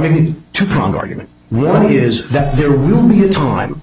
making a two-pronged argument. One is that there will be a time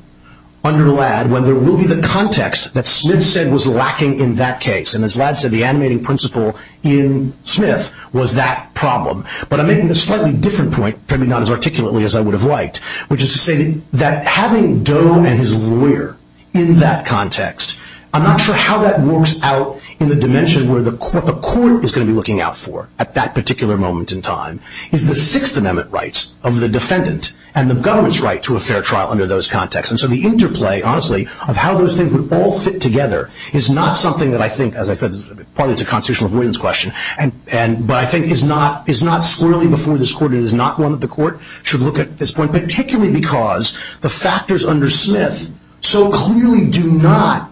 under Ladd when there will be the context that Slid said was lacking in that case. And as Ladd said, the animating principle in Smith was that problem. But I'm making a slightly different point, probably not as articulately as I would have liked, which is to say that having Doe and his lawyer in that context, I'm not sure how that works out in the dimension where the court is going to be looking out for at that particular moment in time is the Sixth Amendment rights of the defendant and the government's right to a fair trial under those contexts. And so the interplay, honestly, of how those things would all fit together is not something that I think, as I said, partly it's a constitutional avoidance question, but I think is not squarely before this court and is not one that the court should look at at this point, particularly because the factors under Smith so clearly do not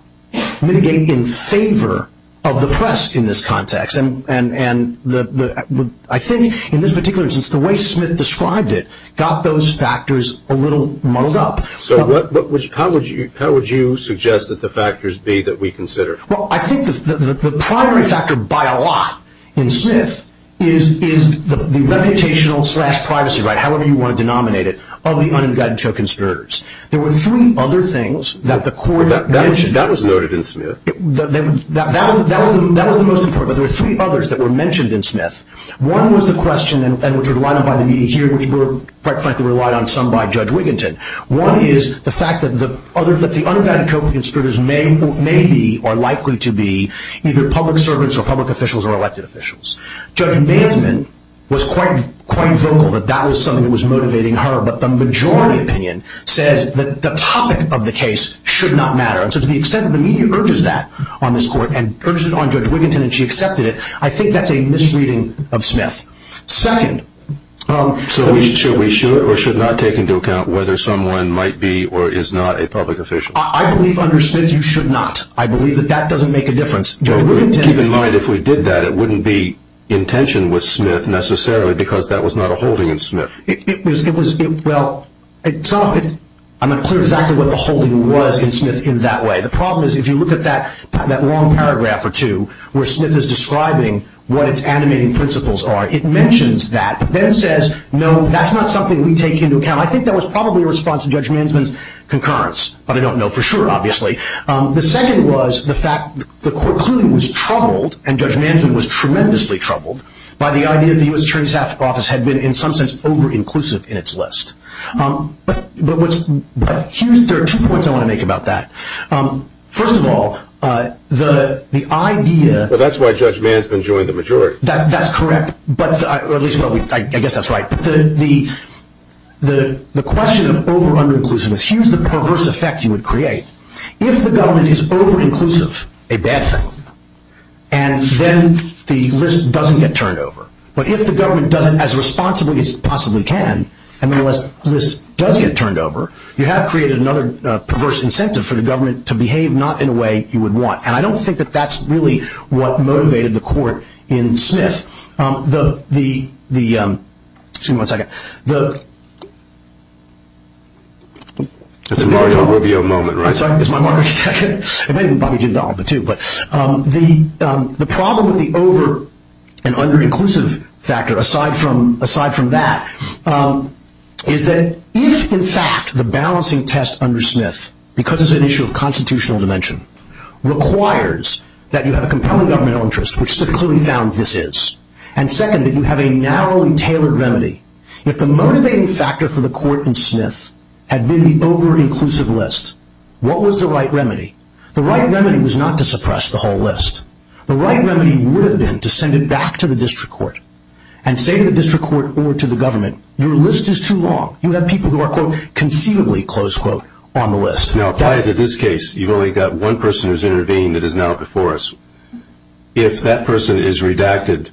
mitigate in favor of the press in this context. And I think in this particular instance, the way Smith described it got those factors a little muddled up. So how would you suggest that the factors be that we consider? Well, I think the primary factor by a lot in Smith is the reputational-slash-privacy right, however you want to denominate it, of the unregistered conspirators. There were three other things that the court mentioned. That was noted in Smith. That was the most important, but there were three others that were mentioned in Smith. One was the question, and it was brought up by the media here, which we were quite frankly relied on some by Judge Wigginton. One is the fact that the unregistered conspirators may be or likely to be either public servants or public officials or elected officials. Judge Mandelman was quite vocal that that was something that was motivating her, but the majority opinion says that the topic of the case should not matter. So to the extent that the media urges that on this court and urges it on Judge Wigginton and she accepted it, I think that's a misreading of Smith. Second. So should we show it or should not take into account whether someone might be or is not a public official? I believe under Smith you should not. I believe that that doesn't make a difference. Keep in mind if we did that, it wouldn't be in tension with Smith necessarily because that was not a holding in Smith. Well, I'm not clear exactly what the holding was in Smith in that way. The problem is if you look at that long paragraph or two where Smith is describing what its animating principles are, it mentions that but then says, no, that's not something we take into account. I think that was probably a response to Judge Mandelman's concurrence, but I don't know for sure obviously. The second was the fact the court clearly was troubled, and Judge Mandelman was tremendously troubled, by the idea that the U.S. Attorney's Office had been in some sense over-inclusive in its list. But there are two points I want to make about that. First of all, the idea- Well, that's why Judge Mandelman joined the majority. That's correct, or at least I guess that's right. The question of over-under-inclusion is, here's the perverse effect you would create. If the government is over-inclusive, a bad thing, and then the list doesn't get turned over. But if the government does it as responsibly as it possibly can, and then the list does get turned over, you have created another perverse incentive for the government to behave not in a way you would want. And I don't think that that's really what motivated the court in Smith. Excuse me one second. That's a lot of your moment, right? It's my moment. The problem with the over-and-under-inclusive factor, aside from that, is that if, in fact, the balancing test under Smith, because it's an issue of constitutional dimension, requires that you have a component of government interest, which they clearly found this is, and second, that you have a narrow and tailored remedy, if the motivating factor for the court in Smith had been the over-inclusive list, what was the right remedy? The right remedy was not to suppress the whole list. The right remedy would have been to send it back to the district court and say to the district court or to the government, your list is too long. You have people who are, quote, conceivably, close quote, on the list. Now, apply it to this case. You've only got one person who's intervened that is not before us. If that person is redacted,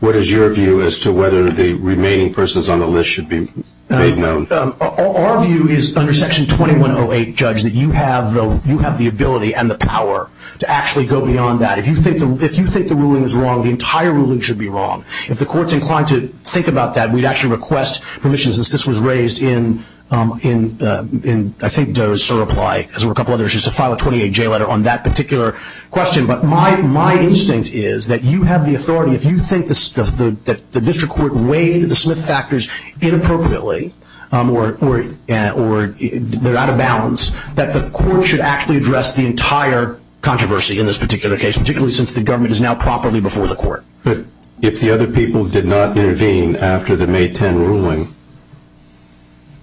what is your view as to whether the remaining persons on the list should be made known? Our view is under Section 2108, Judge, that you have the ability and the power to actually go beyond that. If you think the ruling is wrong, the entire ruling should be wrong. If the court's inclined to think about that, we'd actually request permissions. This was raised in, I think, Doe's reply, as were a couple of other issues, to file a 28-J letter on that particular question. But my instinct is that you have the authority. If you think that the district court weighed the Smith factors inappropriately or they're out of balance, that the court should actually address the entire controversy in this particular case, particularly since the government is now properly before the court. But if the other people did not intervene after the May 10 ruling,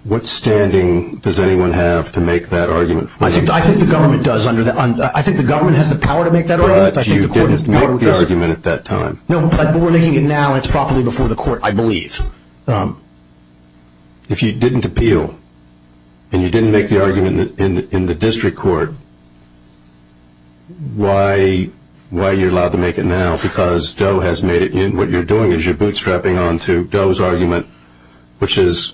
what standing does anyone have to make that argument? I think the government does. I think the government has the power to make that argument. But you didn't make the argument at that time. No, but we're making it now. It's properly before the court, I believe. If you didn't appeal and you didn't make the argument in the district court, why are you allowed to make it now because Doe has made it in? What you're doing is you're bootstrapping onto Doe's argument, which is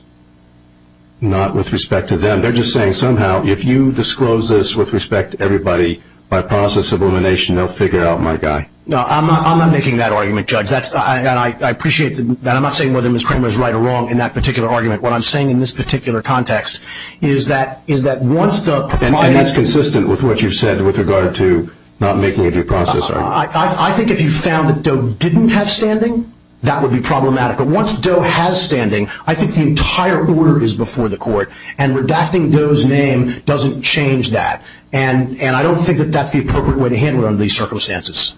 not with respect to them. They're just saying somehow if you disclose this with respect to everybody, by process of elimination, they'll figure out my guy. No, I'm not making that argument, Judge. I appreciate that. I'm not saying whether Ms. Kramer is right or wrong in that particular argument. What I'm saying in this particular context is that once Doe— And that's consistent with what you've said with regard to not making a due process argument. I think if you found that Doe didn't have standing, that would be problematic. But once Doe has standing, I think the entire order is before the court, and redacting Doe's name doesn't change that. And I don't think that that's the appropriate way to handle it under these circumstances.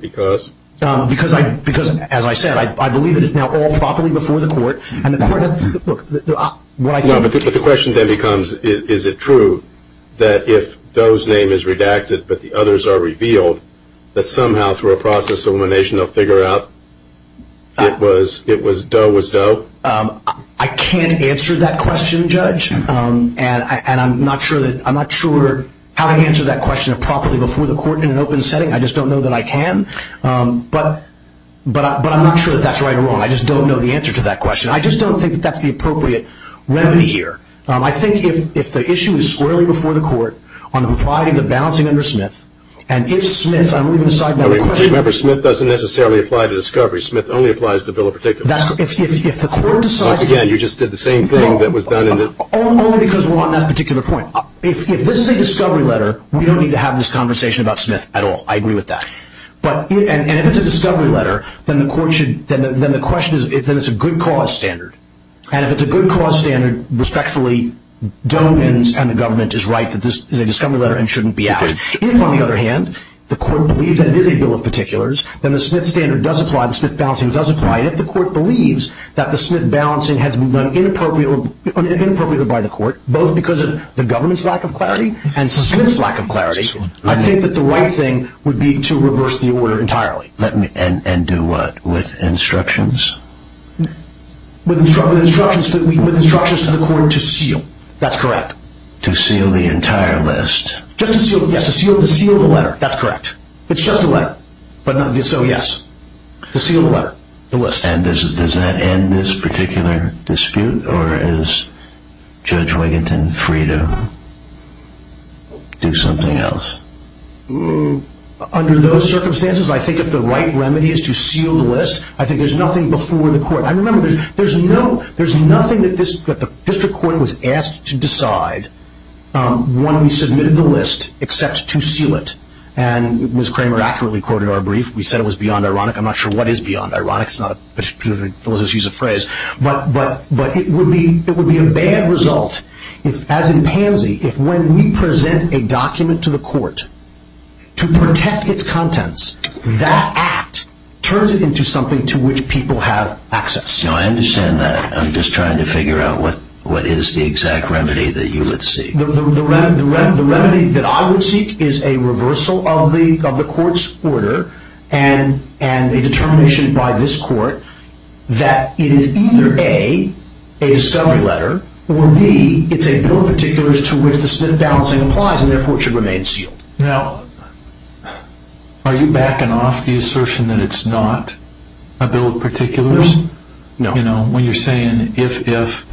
Because? Because, as I said, I believe it is now all properly before the court. No, but the question then becomes is it true that if Doe's name is redacted but the others are revealed, that somehow through a process of elimination they'll figure out it was Doe was Doe? I can't answer that question, Judge. And I'm not sure how to answer that question properly before the court in an open setting. I just don't know that I can. But I'm not sure that that's right or wrong. I just don't know the answer to that question. I just don't think that that's the appropriate remedy here. I think if the issue is squarely before the court on the property of the balancing under Smith, and if Smith—I'm moving aside my question. Remember, Smith doesn't necessarily apply to discovery. Smith only applies to bill of particulars. If the court decides— Only because we're on that particular point. If this is a discovery letter, we don't need to have this conversation about Smith at all. I agree with that. But if it's a discovery letter, then the question is if it's a good cause standard. And if it's a good cause standard, respectfully, Doe wins and the government is right that this is a discovery letter and shouldn't be added. If, on the other hand, the court believes that it is a bill of particulars, then the Smith standard does apply, the Smith balancing does apply. And if the court believes that the Smith balancing has been appropriated by the court, both because of the government's lack of clarity and Smith's lack of clarity, I think that the right thing would be to reverse the order entirely. And do what with instructions? With instructions to the court to seal. That's correct. To seal the entire list. Yes, to seal the letter. That's correct. It's just a letter. So, yes, to seal the letter, the list. And does that end this particular dispute? Or is Judge Wigginton free to do something else? Under those circumstances, I think that the right remedy is to seal the list. I think there's nothing before the court. I remember there's nothing that the district court was asked to decide when we submitted the list except to seal it. And Ms. Kramer accurately quoted our brief. We said it was beyond ironic. I'm not sure what is beyond ironic. It's not a particular philosophical use of phrase. But it would be a bad result, as in pansy, if when we present a document to the court to protect its contents, that act turns it into something to which people have access. I understand that. I'm just trying to figure out what is the exact remedy that you would seek. The remedy that I would seek is a reversal of the court's order and a determination by this court that it is either A, a discovery letter, or B, it's a bill of particulars to which the slip balancing applies and therefore should remain sealed. Now, are you backing off the assertion that it's not a bill of particulars? No. You know, when you're saying if, if,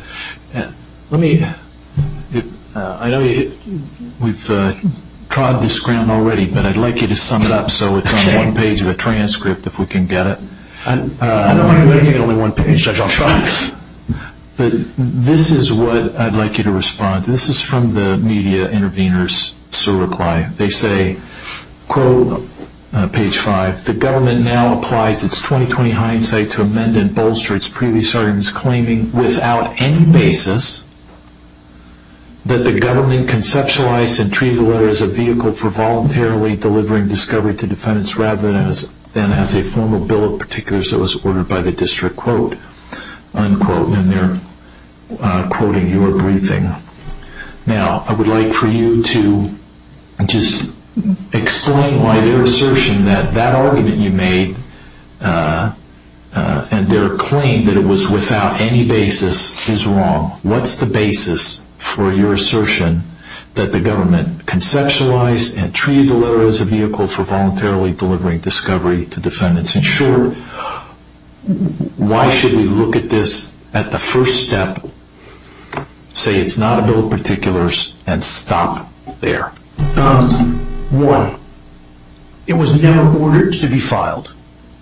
let me, I know we've tried this, Graham, already, but I'd like you to sum it up so it's on one page of a transcript if we can get it. I know I'm giving you only one page. I've got five. This is what I'd like you to respond. This is from the media intervener's reply. They say, quote, page five, that the government now applies its 20-20 hindsight to amend and bolster its prerecordings, claiming without any basis that the government conceptualized and treated the letter as a vehicle for voluntarily delivering discovery to defendants rather than as a formal bill of particulars that was ordered by the district, quote, unquote, when they're quoting your briefing. Now, I would like for you to just explain why their assertion that that argument you made and their claim that it was without any basis is wrong. What's the basis for your assertion that the government conceptualized and treated the letter as a vehicle for voluntarily delivering discovery to defendants? In short, why should we look at this at the first step, say it's not a bill of particulars, and stop there? One, it was never ordered to be filed.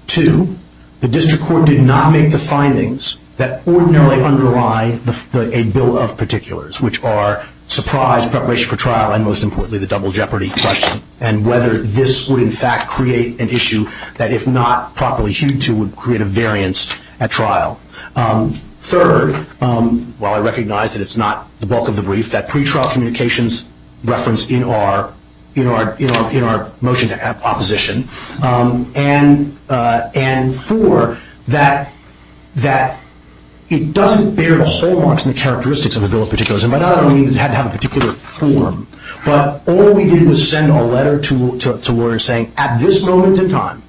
Two, the district court did not make the findings that ordinarily underlie a bill of particulars, which are surprise, preparation for trial, and most importantly, the double jeopardy question, and whether this would, in fact, create an issue that, if not properly hewed to, would create a variance at trial. Third, while I recognize that it's not the bulk of the brief, that pretrial communications referenced in our motion to have opposition, and four, that it doesn't bear the hallmarks and characteristics of a bill of particulars. And by that I don't mean that it had to have a particular form, but all we did was send a letter to lawyers saying, at this moment in time,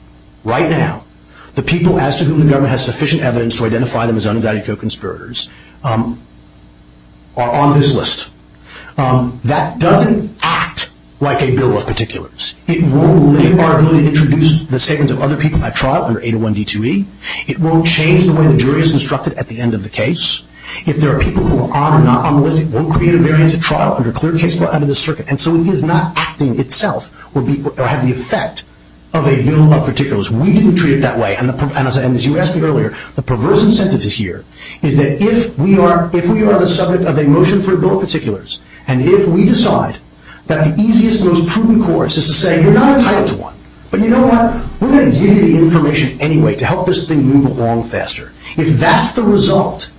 right now, the people as to whom the government has sufficient evidence to identify them as undetectable conspirators are on this list. That doesn't act like a bill of particulars. It won't arbitrarily introduce the statements of other people at trial under 801-D2E. It won't change the way the jury is instructed at the end of the case. If there are people who are or are not on the list, it won't create a variance at trial under clear case law under the circuit, and so it is not acting itself or have the effect of a bill of particulars. We didn't treat it that way, and as you asked me earlier, the perverse incentive to hear is that if we are the subject of a motion for a bill of particulars, and if we decide that the easiest and most prudent course is to say, you're not entitled to one, but you know what, we're going to give you the information anyway to help this thing move along faster. If that's the result,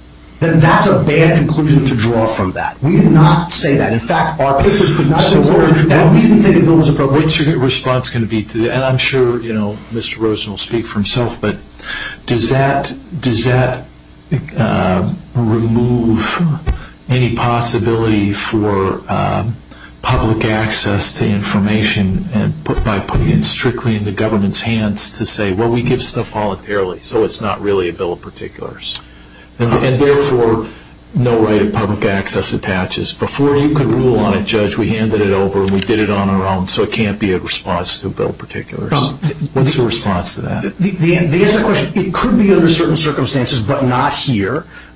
then that's a bad conclusion to draw from that. We did not say that. In fact, our cases could not be more interesting. We didn't say the bill was appropriate. What's your response going to be to that? And I'm sure Mr. Rosen will speak for himself, but does that remove any possibility for public access to information by putting it strictly in the government's hands to say, well, we give stuff voluntarily, so it's not really a bill of particulars. And therefore, no right of public access attaches. Before you could rule on a judge, we handed it over and we did it on our own, so it can't be a response to a bill of particulars. What's your response to that? The answer to that question, it could be under certain circumstances, but not here. Would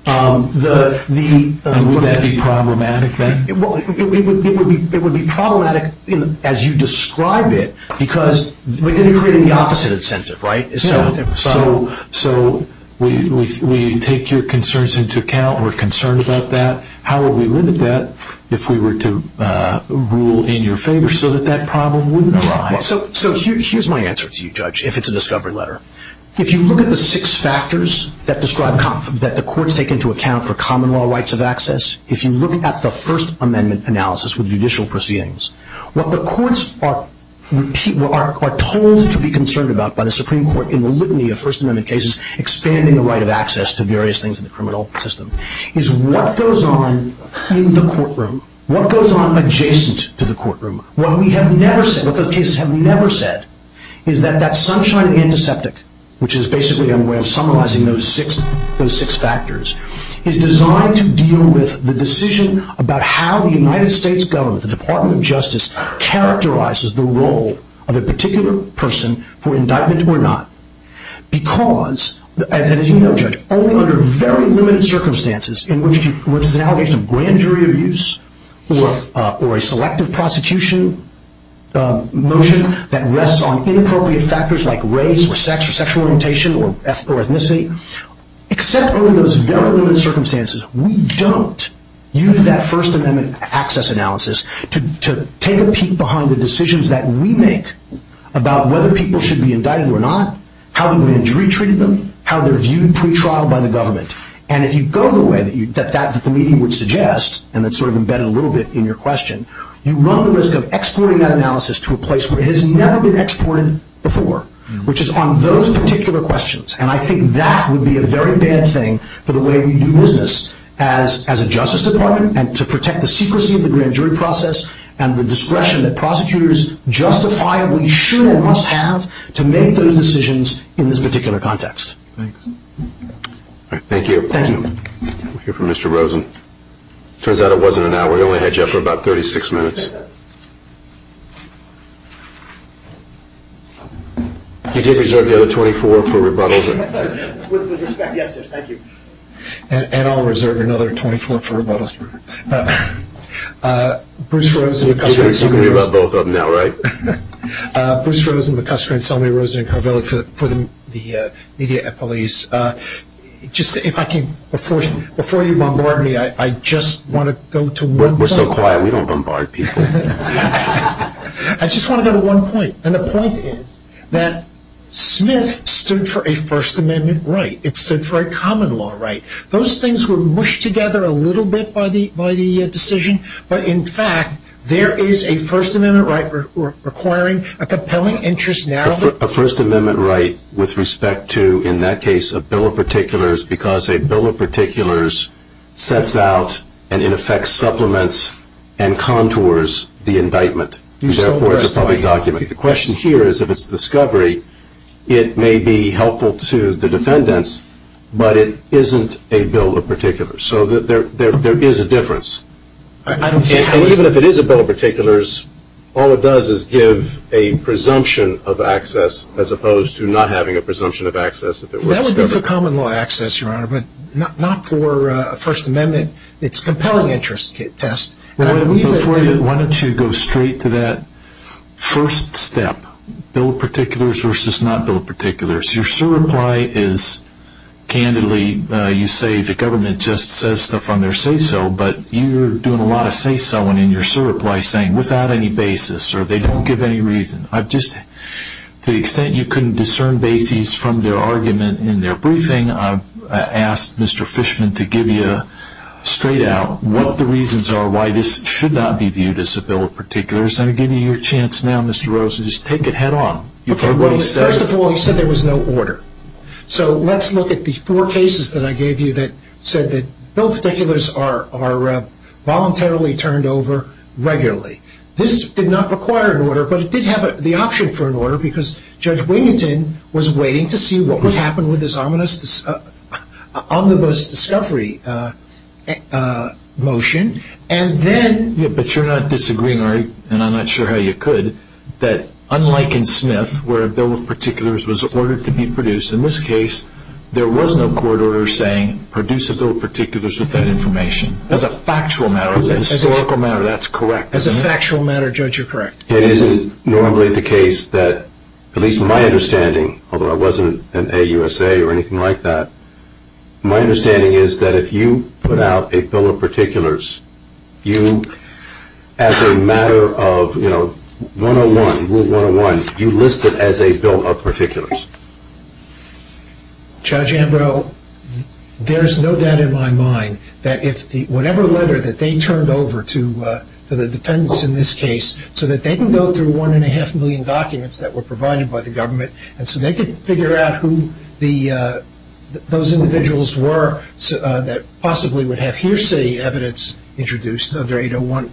that be problematic? It would be problematic as you describe it because we didn't create an opposite incentive, right? So we take your concerns into account, we're concerned about that. How would we limit that if we were to rule in your favor so that that problem wouldn't arise? So here's my answer to you, Judge, if it's a discovery letter. If you look at the six factors that the courts take into account for common law rights of access, if you look at the First Amendment analysis with judicial proceedings, what the courts are told to be concerned about by the Supreme Court in the litany of First Amendment cases, expanding the right of access to various things in the criminal system, is what goes on in the courtroom, what goes on adjacent to the courtroom, what we have never said, what those cases have never said, is that that sunshine antiseptic, which is basically a way of summarizing those six factors, is designed to deal with the decision about how the United States government, the Department of Justice, characterizes the role of a particular person for indictment or not. Because, as you know, Judge, only under very limited circumstances, in which there's an allegation of grand jury of use or a selective prosecution motion that rests on inappropriate factors like race or sex or sexual orientation or ethnicity, except under those very limited circumstances, we don't use that First Amendment access analysis to take a peek behind the decisions that we make about whether people should be indicted or not, how the jury treated them, how they're viewed pre-trial by the government. And if you go the way that the meeting would suggest, and it's sort of embedded a little bit in your question, you run the risk of exporting that analysis to a place where it has never been exported before, which is on those particular questions. And I think that would be a very bad thing for the way we do business as a justice department and to protect the secrecy of the grand jury process and the discretion that prosecutors justify what you should and must have to make those decisions in this particular context. Thank you. Thank you. We'll hear from Mr. Rosen. Turns out it wasn't an hour. We only had you up for about 36 minutes. Yes, sir. You did reserve the other 24 for rebuttals. Yes, sir. Thank you. And I'll reserve another 24 for rebuttals. Bruce Rosen. You're going to tell me something about both of them now, right? Bruce Rosen, McCusker, and Selma Rosen for the media at police. Just if I can, before you bombard me, I just want to go to one point. We're so quiet we don't bombard people. I just want to go to one point, and the point is that Smith stood for a First Amendment right. It stood for a common law right. Those things were mushed together a little bit by the decision, but, in fact, there is a First Amendment right requiring a compelling interest narrative. A First Amendment right with respect to, in that case, a bill of particulars sets out and, in effect, supplements and contours the indictment. Therefore, it's a public document. The question here is if it's a discovery, it may be helpful to the defendants, but it isn't a bill of particulars. So there is a difference. And even if it is a bill of particulars, all it does is give a presumption of access as opposed to not having a presumption of access if it were a discovery. That would be for common law access, Your Honor, but not for a First Amendment. It's a compelling interest test. Why don't you go straight to that first step, bill of particulars versus not bill of particulars. Your sure reply is, candidly, you say the government just says stuff on their say-so, but you're doing a lot of say-so-ing in your sure reply saying without any basis or they don't give any reason. To the extent you couldn't discern basis from the argument in their briefing, I've asked Mr. Fishman to give you straight out what the reasons are why this should not be viewed as a bill of particulars. I'm giving you your chance now, Mr. Rosen. Just take it head on. First of all, he said there was no order. So let's look at these four cases that I gave you that said that both particulars are voluntarily turned over regularly. This did not require an order, but it did have the option for an order because Judge Winington was waiting to see what would happen with his omnibus discovery motion. But you're not disagreeing, and I'm not sure how you could, that unlike in Smith where a bill of particulars was ordered to be produced, in this case there was no court order saying produce a bill of particulars with that information. As a factual matter, as a historical matter, that's correct. As a factual matter, Judge, you're correct. It isn't normally the case that, at least in my understanding, although I wasn't an AUSA or anything like that, my understanding is that if you put out a bill of particulars, you as a matter of, you know, 101, Rule 101, you list it as a bill of particulars. Judge Ambrose, there is no doubt in my mind that whatever letter that they turned over to the defendants in this case so that they can go through one and a half million documents that were provided by the government and so they can figure out who those individuals were that possibly would have hearsay evidence introduced under 801,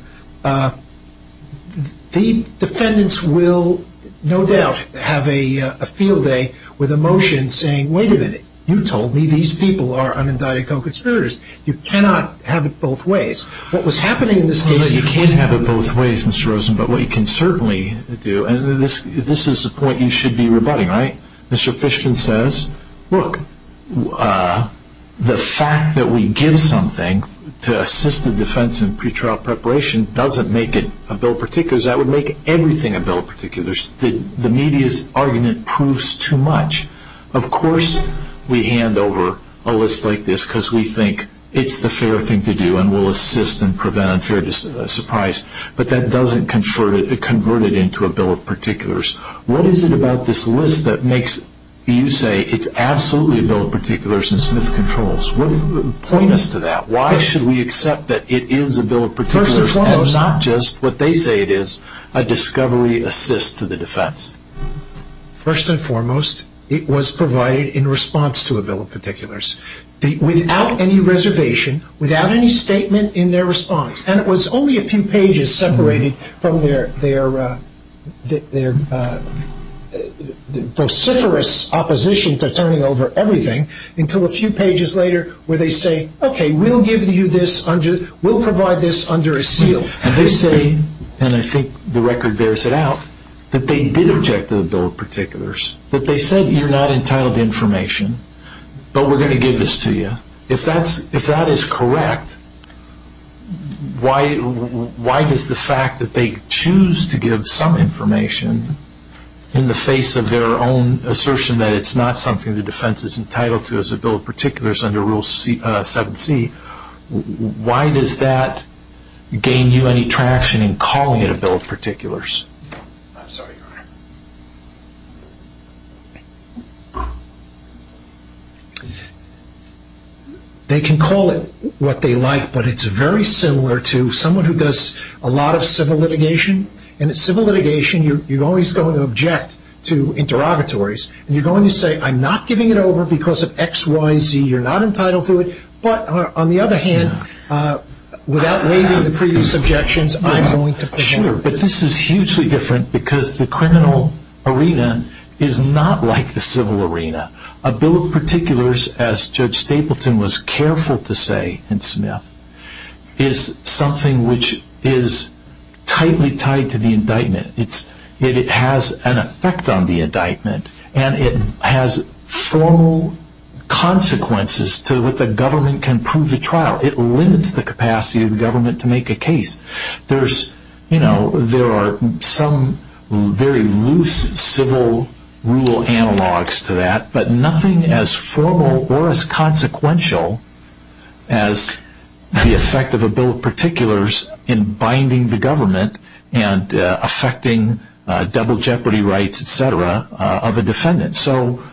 the defendants will no doubt have a field day with a motion saying, wait a minute, you told me these people are unidiacal conspirators. You cannot have it both ways. What was happening in this case, you can't have it both ways, Mr. Rosen, but what you can certainly do, and this is the point you should be rebutting, right? Mr. Fishkin says, look, the fact that we give something to assist the defense in pretrial preparation doesn't make it a bill of particulars. That would make everything a bill of particulars. The media's argument proves too much. Of course we hand over a list like this because we think it's the fair thing to do and we'll assist and prevent a fair surprise, but that doesn't convert it into a bill of particulars. What is it about this list that makes you say it's absolutely a bill of particulars instead of controls? Point us to that. Why should we accept that it is a bill of particulars and not just what they say it is, a discovery assist to the defense? First and foremost, it was provided in response to a bill of particulars. Without any reservation, without any statement in their response, and it was only a few pages separated from their vociferous opposition to turning over everything until a few pages later where they say, okay, we'll give you this, we'll provide this under a seal. They say, and I think the record bears it out, that they did object to the bill of particulars, that they said you're not entitled to information, but we're going to give this to you. If that is correct, why does the fact that they choose to give some information in the face of their own assertion that it's not something the defense is entitled to as a bill of particulars under Rule 7c, why does that gain you any traction in calling it a bill of particulars? They can call it what they like, but it's very similar to someone who does a lot of civil litigation, and in civil litigation you're always going to object to interrogatories, and you're going to say I'm not giving it over because of X, Y, Z, you're not entitled to it, but on the other hand, without raising the previous objections, I'm going to push it. Sure, but this is hugely different because the criminal arena is not like the civil arena. A bill of particulars, as Judge Stapleton was careful to say in Smith, is something which is tightly tied to the indictment. It has an effect on the indictment, and it has formal consequences to what the government can prove at trial. It limits the capacity of the government to make a case. There are some very loose civil rule analogs to that, but nothing as formal or as consequential as the effect of a bill of particulars in binding the government and affecting double jeopardy rights, et cetera, of a defendant. So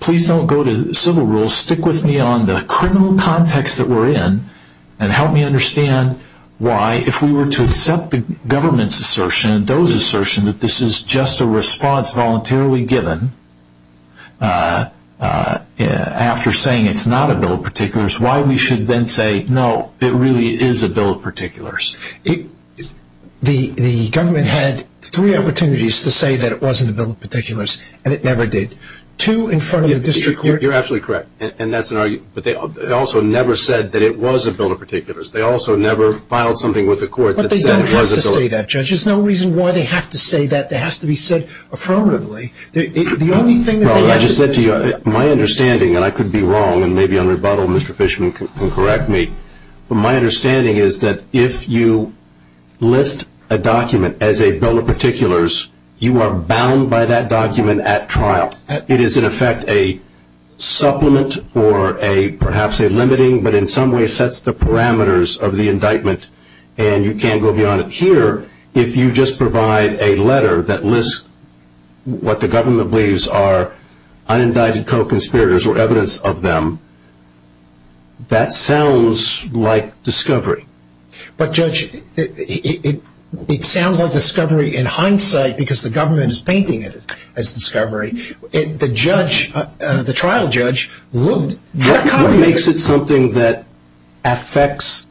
please don't go to civil rules. Stick with me on the criminal context that we're in, and help me understand why if we were to accept the government's assertion and those assertions that this is just a response voluntarily given after saying it's not a bill of particulars, why we should then say, no, it really is a bill of particulars. The government had three opportunities to say that it wasn't a bill of particulars, and it never did. Two in front of the district court. You're absolutely correct, and that's an argument, but they also never said that it was a bill of particulars. They also never filed something with the court that said it was a bill of particulars. But they don't have to say that, Judge. There's no reason why they have to say that. It has to be said affirmatively. Well, I just said to you, my understanding, and I could be wrong, and maybe on rebuttal Mr. Fishman can correct me, but my understanding is that if you list a document as a bill of particulars, you are bound by that document at trial. It is, in effect, a supplement or perhaps a limiting, but in some way sets the parameters of the indictment, and you can't go beyond it. However, if you just provide a letter that lists what the government believes are unindicted co-conspirators or evidence of them, that sounds like discovery. But, Judge, it sounds like discovery in hindsight because the government is painting it as discovery. The judge, the trial judge, what kind of makes it something that affects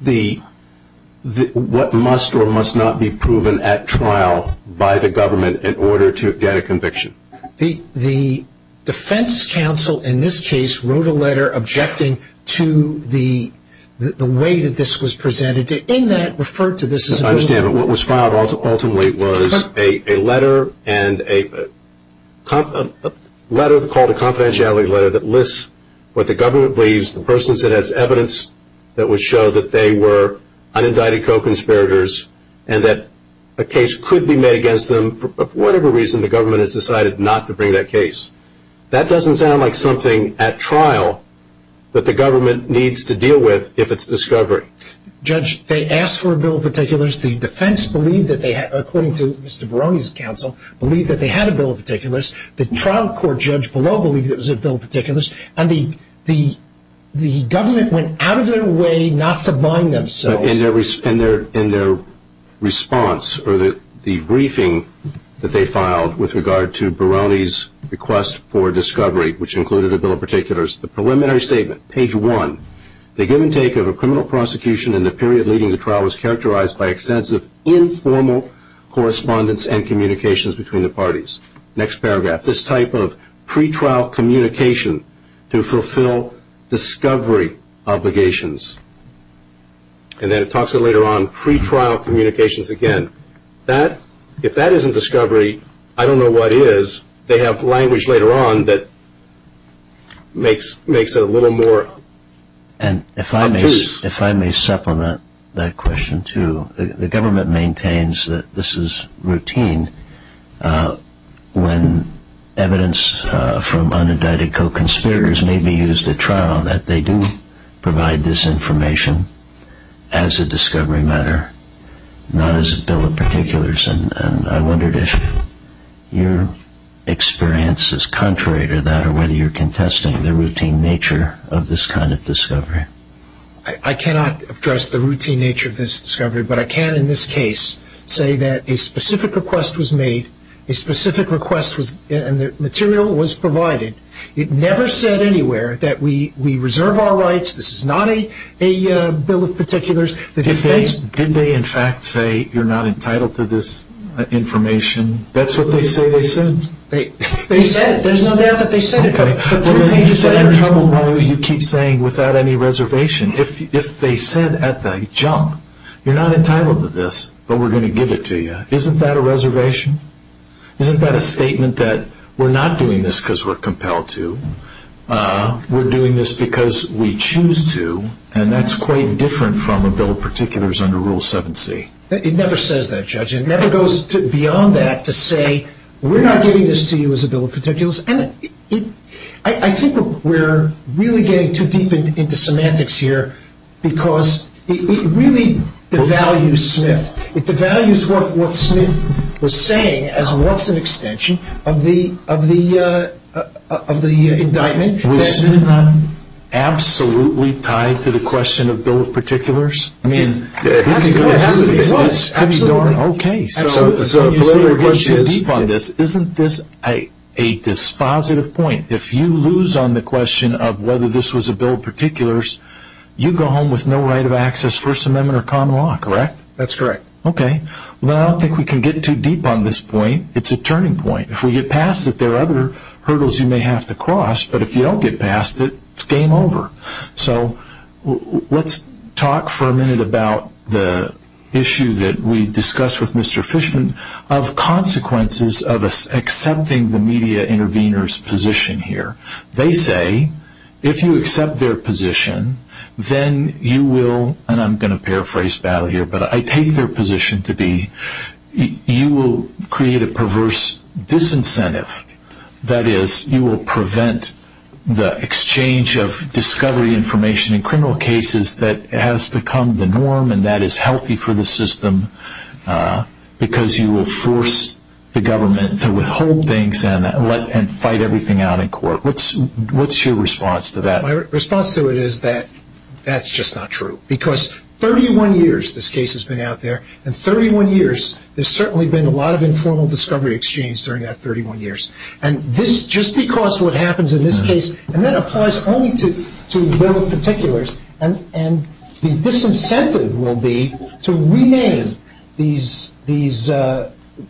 what must or must not be proven at trial by the government in order to get a conviction? The defense counsel in this case wrote a letter objecting to the way that this was presented. If I understand it, what was filed ultimately was a letter called a confidentiality letter that lists what the government believes, the persons that have evidence that would show that they were unindicted co-conspirators and that a case could be made against them for whatever reason the government has decided not to bring that case. That doesn't sound like something at trial that the government needs to deal with if it's discovery. Judge, they asked for a bill of particulars. The defense, according to Mr. Barone's counsel, believed that they had a bill of particulars. The trial court judge below believed it was a bill of particulars. And the government went out of their way not to bind themselves. In their response or the briefing that they filed with regard to Barone's request for discovery, which included a bill of particulars, the preliminary statement, page one, they give and take of a criminal prosecution in the period leading to trial was characterized by extensive informal correspondence and communications between the parties. Next paragraph. This type of pretrial communication to fulfill discovery obligations. And then it talks of, later on, pretrial communications again. If that isn't discovery, I don't know what is. They have language later on that makes it a little more obtuse. And if I may supplement that question, too, the government maintains that this is routine. When evidence from unindicted co-conspirators may be used at trial, that they do provide this information as a discovery matter, not as a bill of particulars. And I wondered if your experience is contrary to that or whether you're contesting the routine nature of this kind of discovery. I cannot address the routine nature of this discovery, but I can in this case say that a specific request was made, a specific request, and the material was provided. It never said anywhere that we reserve our rights, this is not a bill of particulars. Did they, in fact, say you're not entitled to this information? That's what they say they said. They said it. There's no doubt that they said it. We're going to be in trouble as long as you keep saying without any reservation. If they said at the jump, you're not entitled to this, but we're going to give it to you, isn't that a reservation? Isn't that a statement that we're not doing this because we're compelled to, we're doing this because we choose to, and that's quite different from a bill of particulars under Rule 7c. It never says that, Judge. It never goes beyond that to say we're not giving this to you as a bill of particulars. I think we're really getting too deep into semantics here because it really devalues Smith. It devalues what Smith was saying as what's an extension of the indictment. Was Smith absolutely tied to the question of bill of particulars? Absolutely. Okay. Isn't this a dispositive point? If you lose on the question of whether this was a bill of particulars, you go home with no right of access, First Amendment, or common law, correct? That's correct. Okay. I don't think we can get too deep on this point. It's a turning point. If we get past it, there are other hurdles you may have to cross, but if you don't get past it, it's game over. So let's talk for a minute about the issue that we discussed with Mr. Fishman of consequences of accepting the media intervener's position here. They say if you accept their position, then you will, and I'm going to paraphrase battle here, but I take their position to be you will create a perverse disincentive. That is, you will prevent the exchange of discovery information in criminal cases that has become the norm and that is healthy for the system because you will force the government to withhold things and fight everything out in court. What's your response to that? My response to it is that that's just not true because 31 years this case has been out there, and 31 years there's certainly been a lot of informal discovery exchange during that 31 years, and just because what happens in this case, and that applies only to bill of particulars, and the disincentive will be to rename these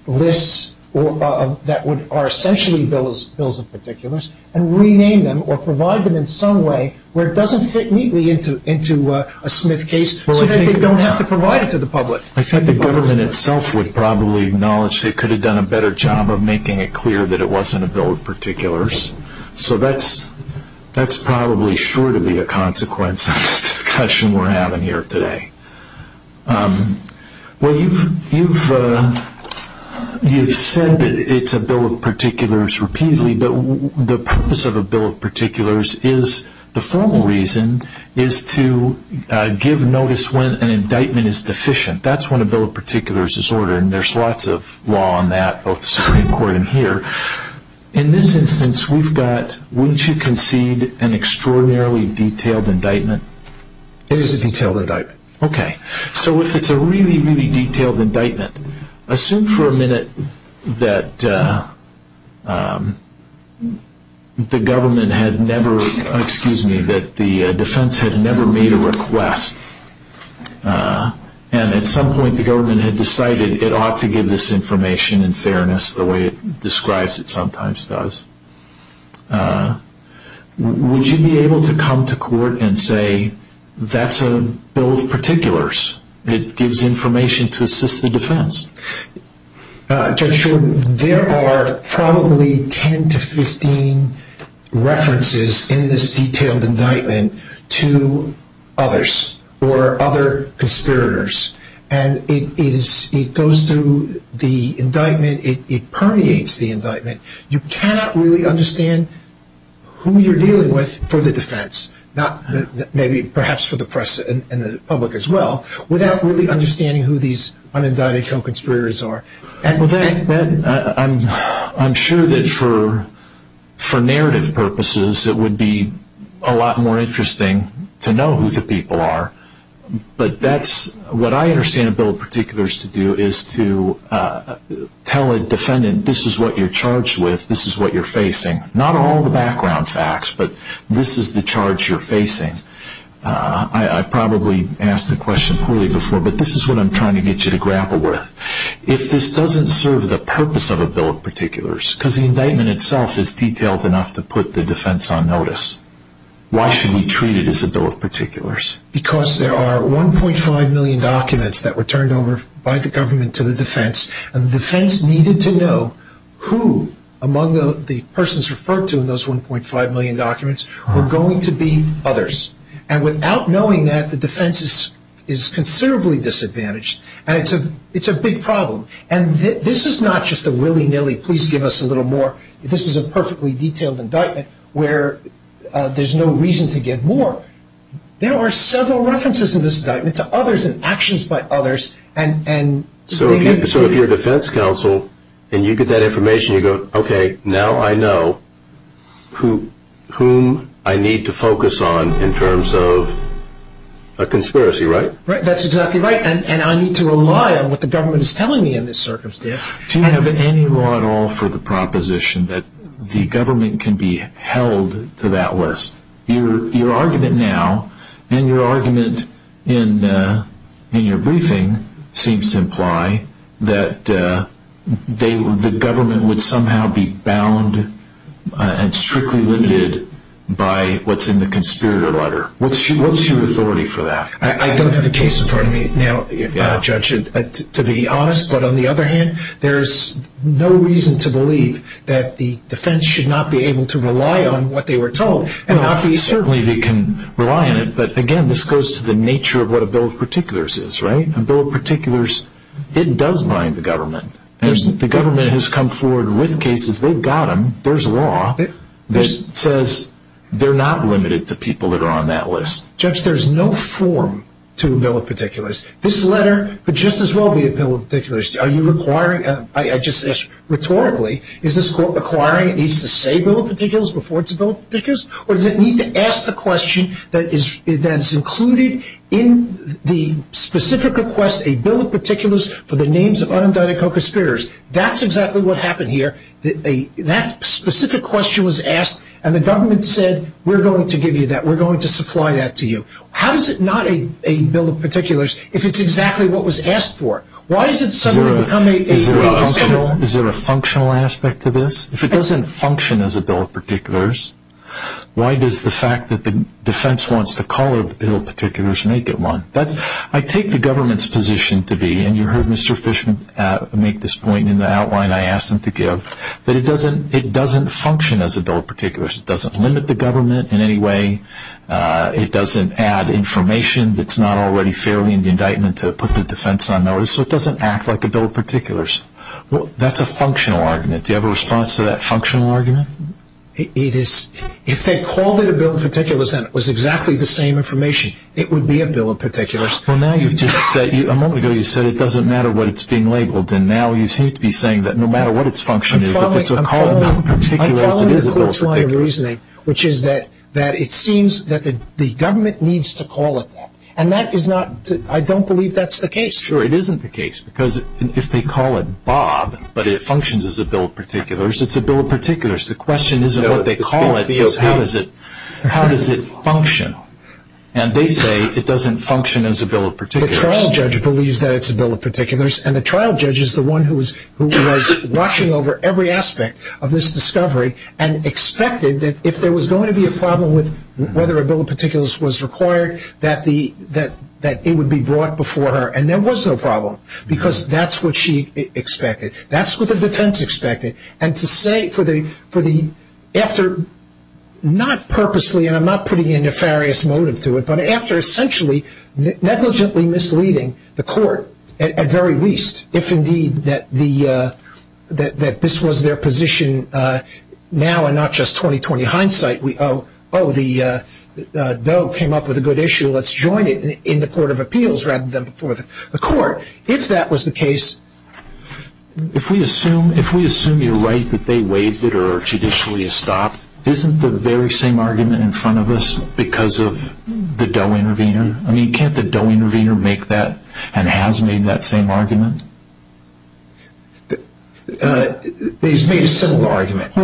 lists that are essentially bills of particulars and rename them or provide them in some way where it doesn't fit neatly into a Smith case so that you don't have to provide it to the public. I think the government itself would probably acknowledge they could have done a better job of making it clear that it wasn't a bill of particulars. So that's probably sure to be a consequence of the discussion we're having here today. Well, you've said that it's a bill of particulars repeatedly, but the purpose of a bill of particulars is, the formal reason, is to give notice when an indictment is deficient. That's when a bill of particulars is ordered, and there's lots of law on that in court in here. In this instance, wouldn't you concede an extraordinarily detailed indictment? It is a detailed indictment. Okay. So if it's a really, really detailed indictment, assume for a minute that the defense had never made a request, and at some point the government had decided it ought to give this information in fairness the way it describes it sometimes does. Would you be able to come to court and say, that's a bill of particulars that gives information to assist the defense? Judge Shulman, there are probably 10 to 15 references in this detailed indictment to others or other conspirators, and it goes through the indictment. It permeates the indictment. You cannot really understand who you're dealing with for the defense, maybe perhaps for the press and the public as well, without really understanding who these unindicted conspirators are. I'm sure that for narrative purposes, it would be a lot more interesting to know who the people are, but what I understand a bill of particulars to do is to tell a defendant, this is what you're charged with, this is what you're facing. Not all the background facts, but this is the charge you're facing. I've probably asked the question poorly before, but this is what I'm trying to get you to grapple with. If this doesn't serve the purpose of a bill of particulars, because the indictment itself is detailed enough to put the defense on notice, why should we treat it as a bill of particulars? Because there are 1.5 million documents that were turned over by the government to the defense, and the defense needed to know who among the persons referred to in those 1.5 million documents were going to be others. Without knowing that, the defense is considerably disadvantaged. It's a big problem. This is not just a willy-nilly, please give us a little more. This is a perfectly detailed indictment where there's no reason to get more. There are several references to this indictment to others and actions by others. So if you're a defense counsel and you get that information, you go, okay, now I know whom I need to focus on in terms of a conspiracy, right? That's exactly right, and I need to rely on what the government is telling me in this circumstance. Do you have any law at all for the proposition that the government can be held to that list? Your argument now and your argument in your briefing seems to imply that the government would somehow be bound and strictly limited by what's in the conspirator letter. What's your authority for that? I don't have a case in front of me now, Judge, to be honest. But on the other hand, there's no reason to believe that the defense should not be able to rely on what they were told. Certainly they can rely on it, but again, this goes to the nature of what a bill of particulars is, right? A bill of particulars, it does bind the government. The government has come forward with cases. They've got them. There's law that says they're not limited to people that are on that list. Judge, there's no form to a bill of particulars. This letter would just as well be a bill of particulars. I just asked rhetorically, is this court requiring these to say bill of particulars before it's a bill of particulars, or does it need to ask the question that is included in the specific request, a bill of particulars for the names of undictated co-conspirators? That's exactly what happened here. That specific question was asked, and the government said, we're going to give you that. We're going to supply that to you. How is it not a bill of particulars if it's exactly what was asked for? Is there a functional aspect to this? If it doesn't function as a bill of particulars, why does the fact that the defense wants to call it a bill of particulars make it one? I take the government's position to be, and you heard Mr. Fishman make this point in the outline I asked him to give, that it doesn't function as a bill of particulars. It doesn't limit the government in any way. It doesn't add information that's not already fairly in the indictment to put the defense on notice, so it doesn't act like a bill of particulars. That's a functional argument. Do you have a response to that functional argument? If they called it a bill of particulars, then it was exactly the same information. It would be a bill of particulars. A moment ago you said it doesn't matter what it's being labeled, and now you seem to be saying that no matter what it's functioning, I'm following the court's line of reasoning, which is that it seems that the government needs to call it that, and I don't believe that's the case. Sure, it isn't the case, because if they call it Bob, but it functions as a bill of particulars, it's a bill of particulars. The question isn't what they call it, it's how does it function, and they say it doesn't function as a bill of particulars. The trial judge believes that it's a bill of particulars, and the trial judge is the one who was watching over every aspect of this discovery and expected that if there was going to be a problem with whether a bill of particulars was required, that it would be brought before her, and there was no problem, because that's what she expected. That's what the defense expected, and to say for the effort, not purposely, and I'm not putting a nefarious motive to it, but after essentially negligently misleading the court, at very least, if indeed that this was their position now and not just 20-20 hindsight, oh, the bill came up with a good issue, let's join it in the court of appeals rather than before the court, if that was the case. If we assume you're right that they waived it or judicially stopped, isn't the very same argument in front of us because of the Doe-Intervenor? I mean, can't the Doe-Intervenor make that and has made that same argument? He's made a similar argument. The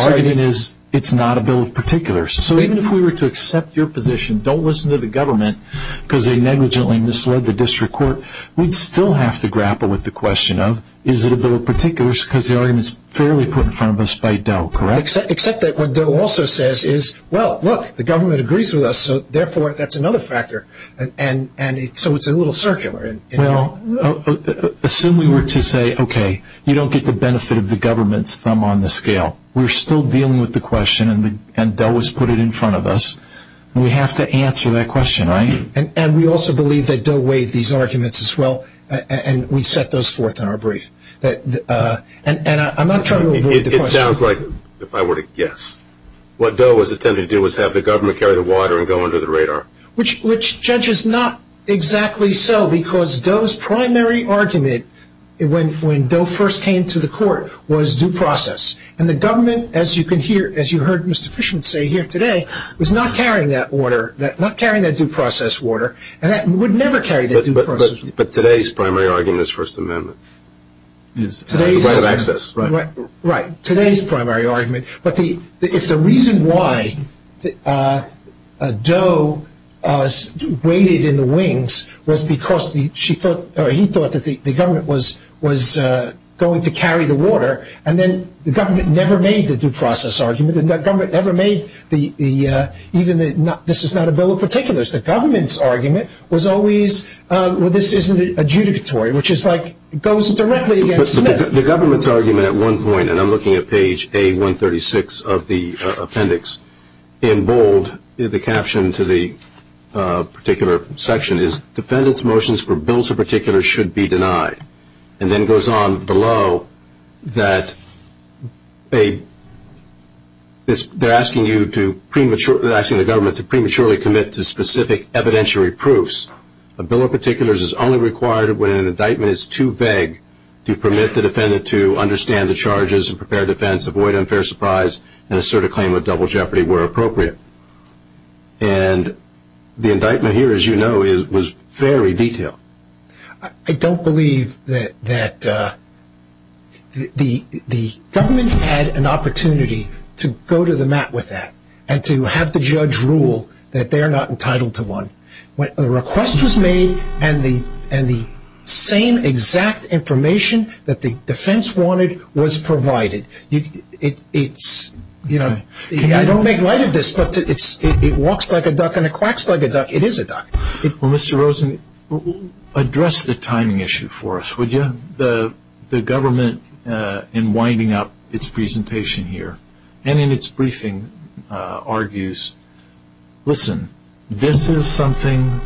argument is it's not a bill of particulars, so even if we were to accept your position, don't listen to the government because they negligently misled the district court, we'd still have to grapple with the question of is it a bill of particulars because the argument is fairly put in front of us by Doe, correct? Except that what Doe also says is, well, look, the government agrees with us, so therefore that's another factor, and so it's a little circular. Well, assume we were to say, okay, you don't get the benefit of the government's thumb on the scale. We're still dealing with the question, and Doe has put it in front of us. We have to answer that question, right? And we also believe that Doe waived these arguments as well, and we set those forth in our brief. And I'm not trying to avoid the question. It sounds like, if I were to guess, what Doe was attempting to do was have the government carry the water and go under the radar. Which, Judge, is not exactly so because Doe's primary argument when Doe first came to the court was due process, and the government, as you heard Mr. Fishman say here today, was not carrying that order, not carrying that due process order, and would never carry that due process order. But today's primary argument is First Amendment. Right. Today's primary argument. But the reason why Doe waited in the wings was because he thought that the government was going to carry the water, and then the government never made the due process argument, and the government never made even the, this is not a bill of particulars. The government's argument was always, well, this isn't adjudicatory, which is like, goes directly against the bill. The government's argument at one point, and I'm looking at page A136 of the appendix, in bold, the caption to the particular section is, defendant's motions for bills of particulars should be denied. And then it goes on below that they're asking the government to prematurely commit to specific evidentiary proofs. A bill of particulars is only required when an indictment is too vague to permit the defendant to understand the charges and prepare defense, avoid unfair surprise, and assert a claim of double jeopardy where appropriate. And the indictment here, as you know, was very detailed. I don't believe that the government had an opportunity to go to the mat with that, and to have the judge rule that they're not entitled to one. A request was made, and the same exact information that the defense wanted was provided. I don't make light of this, but it walks like a duck and it quacks like a duck. It is a duck. Well, Mr. Rosen, address the timing issue for us, would you? The government, in winding up its presentation here, and in its briefing, argues, listen, this is something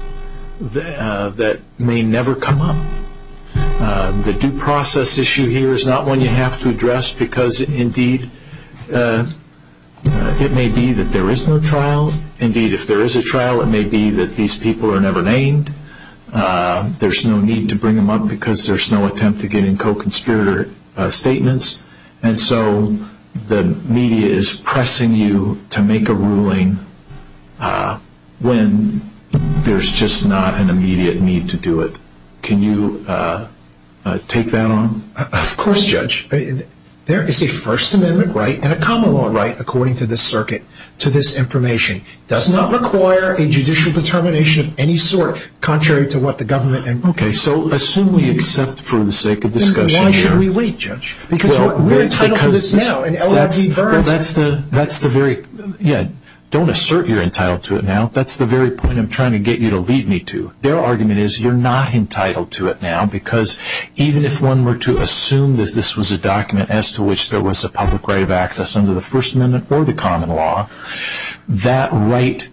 that may never come up. The due process issue here is not one you have to address because, indeed, it may be that there is no trial. Indeed, if there is a trial, it may be that these people are never named. There's no need to bring them up because there's no attempt at getting co-conspirator statements. And so the media is pressing you to make a ruling when there's just not an immediate need to do it. Can you take that on? Of course, Judge. There is a First Amendment right and a common law right, according to this circuit, to this information. It does not require a judicial determination of any sort, contrary to what the government indicates. Okay, so assume we accept for the sake of discussion. Then why should we wait, Judge? Because we're entitled to this now. Don't assert you're entitled to it now. That's the very point I'm trying to get you to lead me to. Their argument is you're not entitled to it now because even if one were to assume that this was a document as to which there was a public right of access under the First Amendment or the common law, that right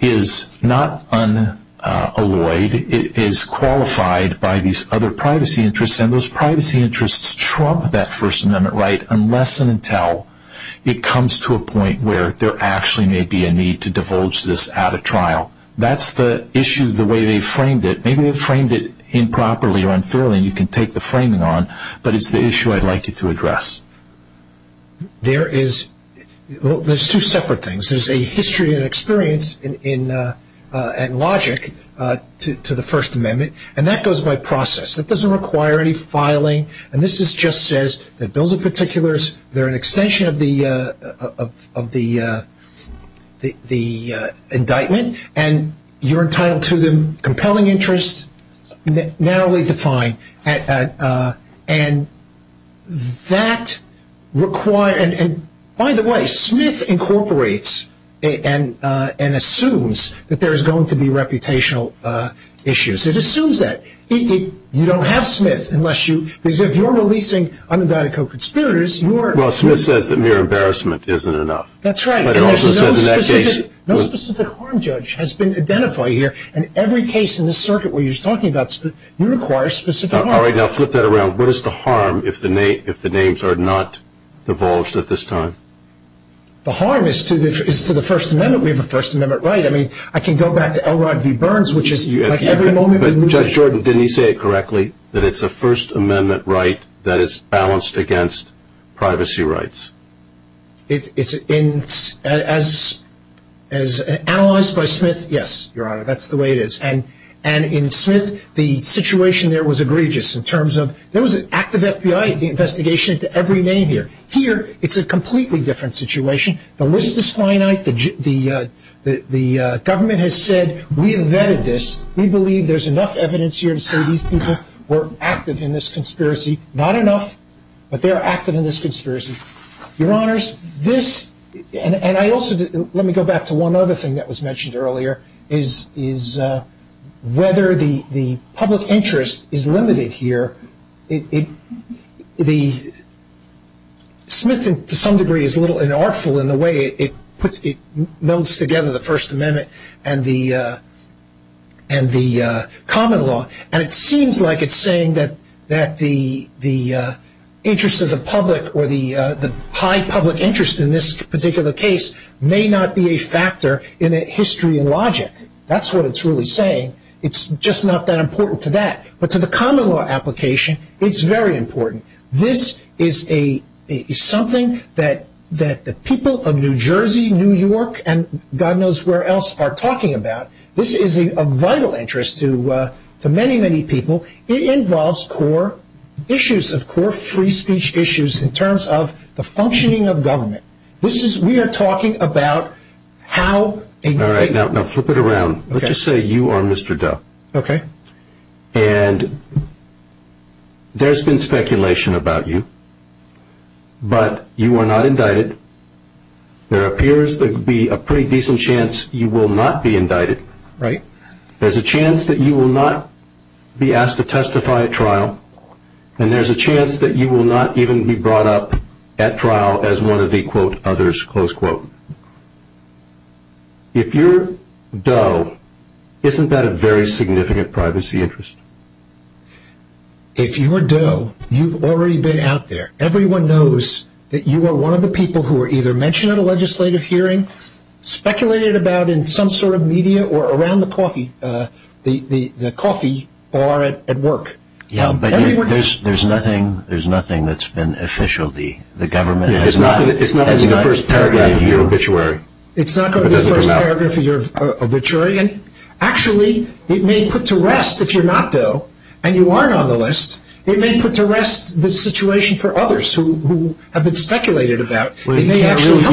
is not unalloyed. It is qualified by these other privacy interests, and those privacy interests trump that First Amendment right unless and until it comes to a point where there actually may be a need to divulge this at a trial. That's the issue, the way they framed it. Maybe they framed it improperly or unfairly, and you can take the framing on, but it's the issue I'd like you to address. There is two separate things. There's a history and experience and logic to the First Amendment, and that goes by process. That doesn't require any filing, and this just says that those are particulars. They're an extension of the indictment, and you're entitled to them, compelling interest, narrowly defined, and that requires, and by the way, Smith incorporates and assumes that there is going to be reputational issues. It assumes that. You don't have Smith unless you, because if you're releasing unindicted co-conspirators, you are- Well, Smith says that mere embarrassment isn't enough. That's right. But it also says in that case- No specific harm judge has been identified here, and every case in this circuit where you're talking about, you require specific harm. All right, I'll flip that around. What is the harm if the names are not divulged at this time? The harm is to the First Amendment. We have a First Amendment right. I mean, I can go back to Elrod v. Burns, which is like every moment- Judge Jordan, didn't he say it correctly, that it's a First Amendment right that is balanced against privacy rights? As analyzed by Smith, yes, Your Honor, that's the way it is. And in Smith, the situation there was egregious in terms of there was an active FBI investigation into every name here. Here, it's a completely different situation. The list is finite. The government has said we invented this. We believe there's enough evidence here to say these people were active in this conspiracy. Not enough, but they are active in this conspiracy. Your Honors, this- And I also- Let me go back to one other thing that was mentioned earlier, is whether the public interest is limited here. Smith, to some degree, is a little unartful in the way it melds together the First Amendment and the common law. And it seems like it's saying that the interest of the public or the high public interest in this particular case may not be a factor in the history and logic. That's what it's really saying. It's just not that important to that. But to the common law application, it's very important. This is something that the people of New Jersey, New York, and God knows where else are talking about. This is a vital interest to many, many people. It involves core issues of core free speech issues in terms of the functioning of government. We are talking about how- All right, now flip it around. Let's just say you are Mr. Doe. Okay. And there's been speculation about you, but you are not indicted. There appears to be a pretty decent chance you will not be indicted. Right. There's a chance that you will not be asked to testify at trial. And there's a chance that you will not even be brought up at trial as one of the, quote, others, close quote. If you're Doe, isn't that a very significant privacy interest? If you are Doe, you've already been out there. Everyone knows that you are one of the people who were either mentioned at a legislative hearing, speculated about in some sort of media, or around the coffee bar at work. Yeah, but there's nothing that's been official. It's not going to be the first paragraph of your obituary. It's not going to be the first paragraph of your obituary. Actually, it may put to rest, if you're not Doe and you aren't on the list, it may put to rest the situation for others who have been speculated about. You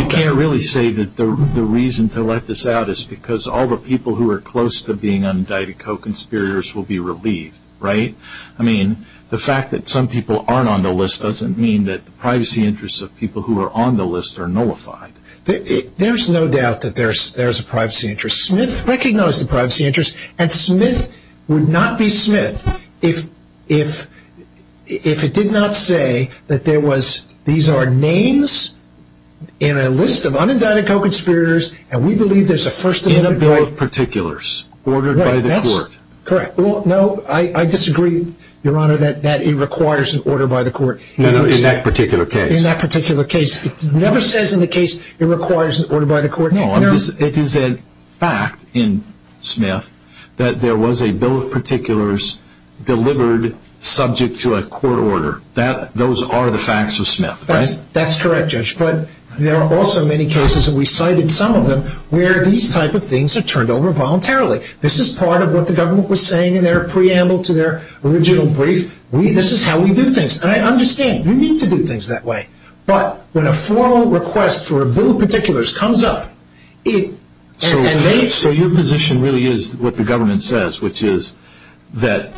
can't really say that the reason to let this out is because all the people who are close to being indicted, co-conspirators, will be relieved, right? I mean, the fact that some people aren't on the list doesn't mean that the privacy interests of people who are on the list are nullified. There's no doubt that there's a privacy interest. Smith recognized the privacy interest, and Smith would not be Smith if it did not say that there was, these are names in a list of unindicted co-conspirators, and we believe there's a first amendment. In a group of particulars, ordered by the court. Correct. No, I disagree, Your Honor, that it requires an order by the court. In that particular case. In that particular case. It never says in the case it requires an order by the court. It is a fact in Smith that there was a bill of particulars delivered subject to a court order. Those are the facts of Smith, right? That's correct, Judge, but there are also many cases, and we cited some of them, where these type of things are turned over voluntarily. This is part of what the government was saying in their preamble to their original brief. This is how we do things, and I understand. You need to do things that way. But when a formal request for a bill of particulars comes up. So your position really is what the government says, which is that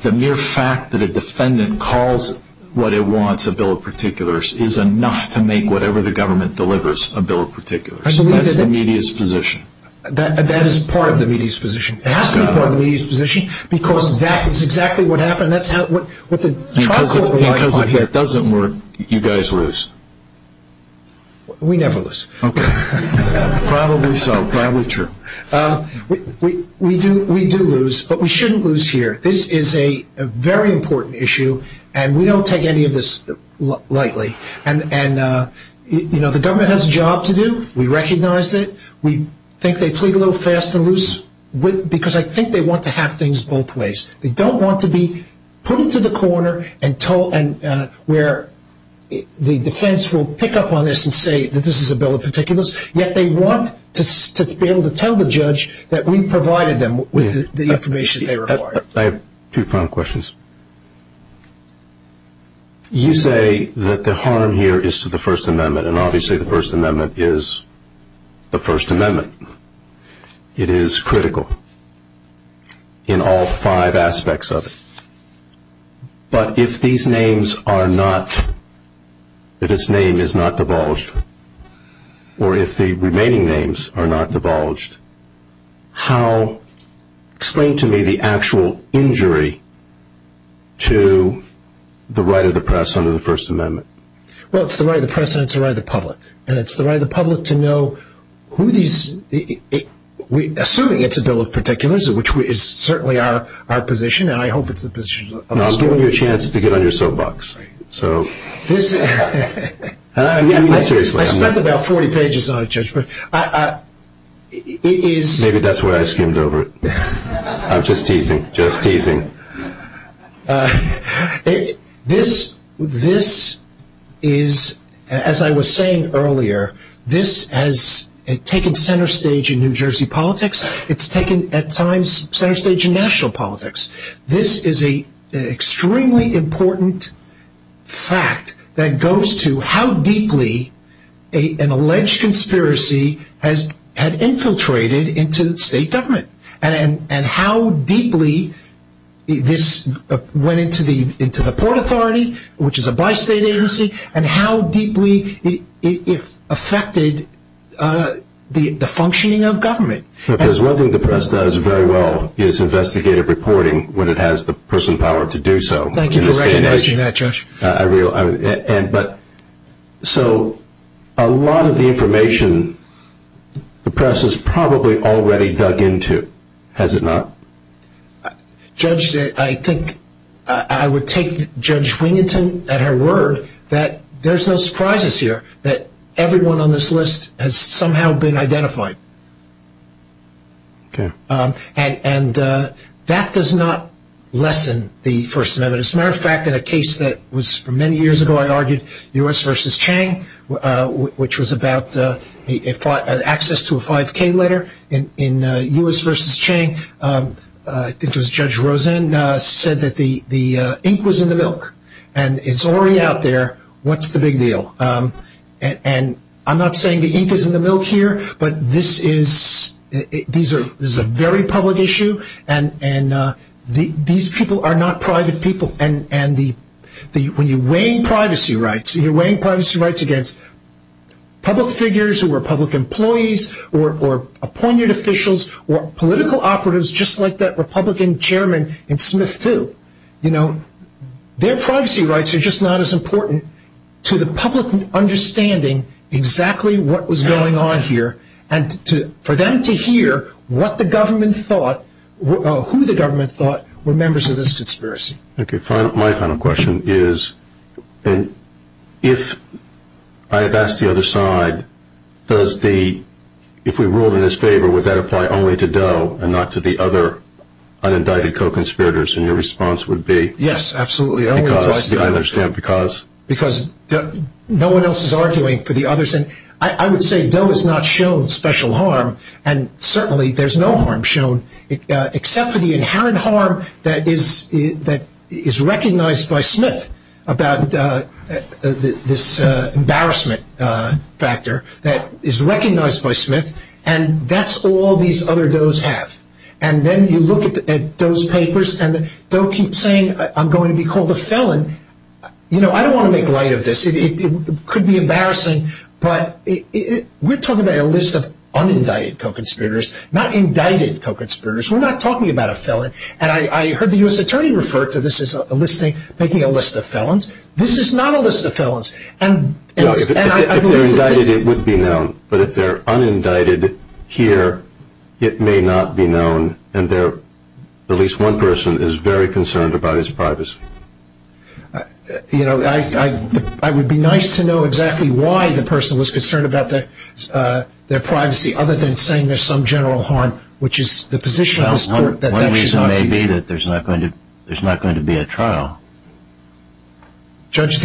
the mere fact that a defendant calls what it wants, a bill of particulars, is enough to make whatever the government delivers a bill of particulars. That's the media's position. That is part of the media's position. It has to be part of the media's position because that is exactly what happened. Because if it doesn't work, you guys lose. We never lose. Probably so. Probably true. We do lose, but we shouldn't lose here. This is a very important issue, and we don't take any of this lightly. The government has a job to do. We recognized it. We think they played a little fast and loose because I think they want to have things both ways. They don't want to be put into the corner where the defense will pick up on this and say that this is a bill of particulars, yet they want to be able to tell the judge that we provided them with the information they required. I have two final questions. You say that the harm here is to the First Amendment, and obviously the First Amendment is the First Amendment. It is critical in all five aspects of it. But if these names are not, if its name is not divulged, or if the remaining names are not divulged, how, explain to me the actual injury to the right of the press under the First Amendment. Well, it's the right of the press and it's the right of the public, and it's the right of the public to know who these, assuming it's a bill of particulars, which is certainly our position, and I hope it's the position of the Supreme Court. Now, I'm giving you a chance to get on your soapbox. I spent about 40 pages on it, Judge. Maybe that's why I skimmed over it. I'm just teasing, just teasing. This is, as I was saying earlier, this has taken center stage in New Jersey politics. It's taken, at times, center stage in national politics. This is an extremely important fact that goes to how deeply an alleged conspiracy has infiltrated into state government and how deeply this went into the Port Authority, which is a bi-state agency, and how deeply it affected the functioning of government. Because one thing the press does very well is investigative reporting when it has the personal power to do so. Thank you for recognizing that, Judge. But so a lot of the information the press has probably already dug into, has it not? Judge, I think I would take Judge Winginton at her word that there's no surprises here that everyone on this list has somehow been identified. Okay. And that does not lessen the First Amendment. As a matter of fact, in a case that was many years ago, I argued, U.S. v. Chang, which was about access to a 5K letter in U.S. v. Chang, it was Judge Rosen said that the ink was in the milk, and it's already out there. What's the big deal? And I'm not saying the ink is in the milk here, but this is a very public issue, and these people are not private people. And when you're weighing privacy rights, when you're weighing privacy rights against public figures who are public employees or appointed officials or political operatives just like that Republican chairman in Smith too, you know, their privacy rights are just not as important to the public understanding exactly what was going on here and for them to hear what the government thought or who the government thought were members of this conspiracy. Okay. My final question is if I had asked the other side, if we ruled in his favor, would that apply only to Doe and not to the other unindicted co-conspirators? And your response would be? Yes, absolutely. I understand. Because? Because no one else is arguing for the others. And I would say Doe has not shown special harm, and certainly there's no harm shown except for the inherent harm that is recognized by Smith about this embarrassment factor that is recognized by Smith, and that's all these other Does have. And then you look at those papers, and Doe keeps saying, I'm going to be called a felon. You know, I don't want to make light of this. It could be embarrassing, but we're talking about a list of unindicted co-conspirators, not indicted co-conspirators. We're not talking about a felon. And I heard the U.S. Attorney refer to this as making a list of felons. This is not a list of felons. If they're indicted, it would be known. But if they're unindicted here, it may not be known, and at least one person is very concerned about his privacy. You know, I would be nice to know exactly why the person was concerned about their privacy, other than saying there's some general harm, which is the position of this court. One reason may be that there's not going to be a trial. Judge,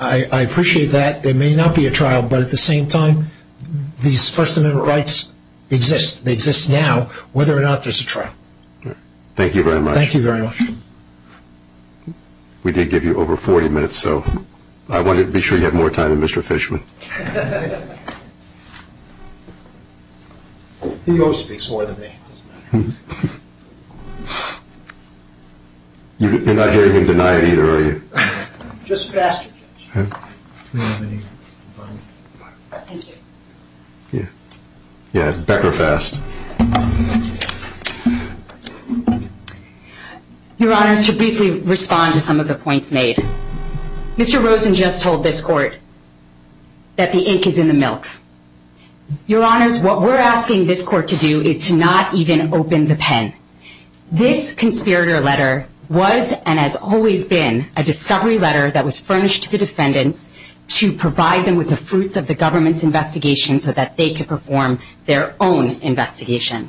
I appreciate that. There may not be a trial, but at the same time, these First Amendment rights exist. They exist now. Whether or not there's a trial. Thank you very much. Thank you very much. We did give you over 40 minutes, so I wanted to be sure you had more time than Mr. Fishman. He mostly speaks more than me. You're not hearing me deny it, either, are you? Just faster. Thank you. Yeah, it's better fast. Your Honors, to briefly respond to some of the points made. Mr. Rosen just told this court that the ink is in the milk. Your Honors, what we're asking this court to do is to not even open the pen. This conspirator letter was and has always been a discovery letter that was furnished to the defendant to provide them with the fruits of the government's investigation so that they could perform their own investigation.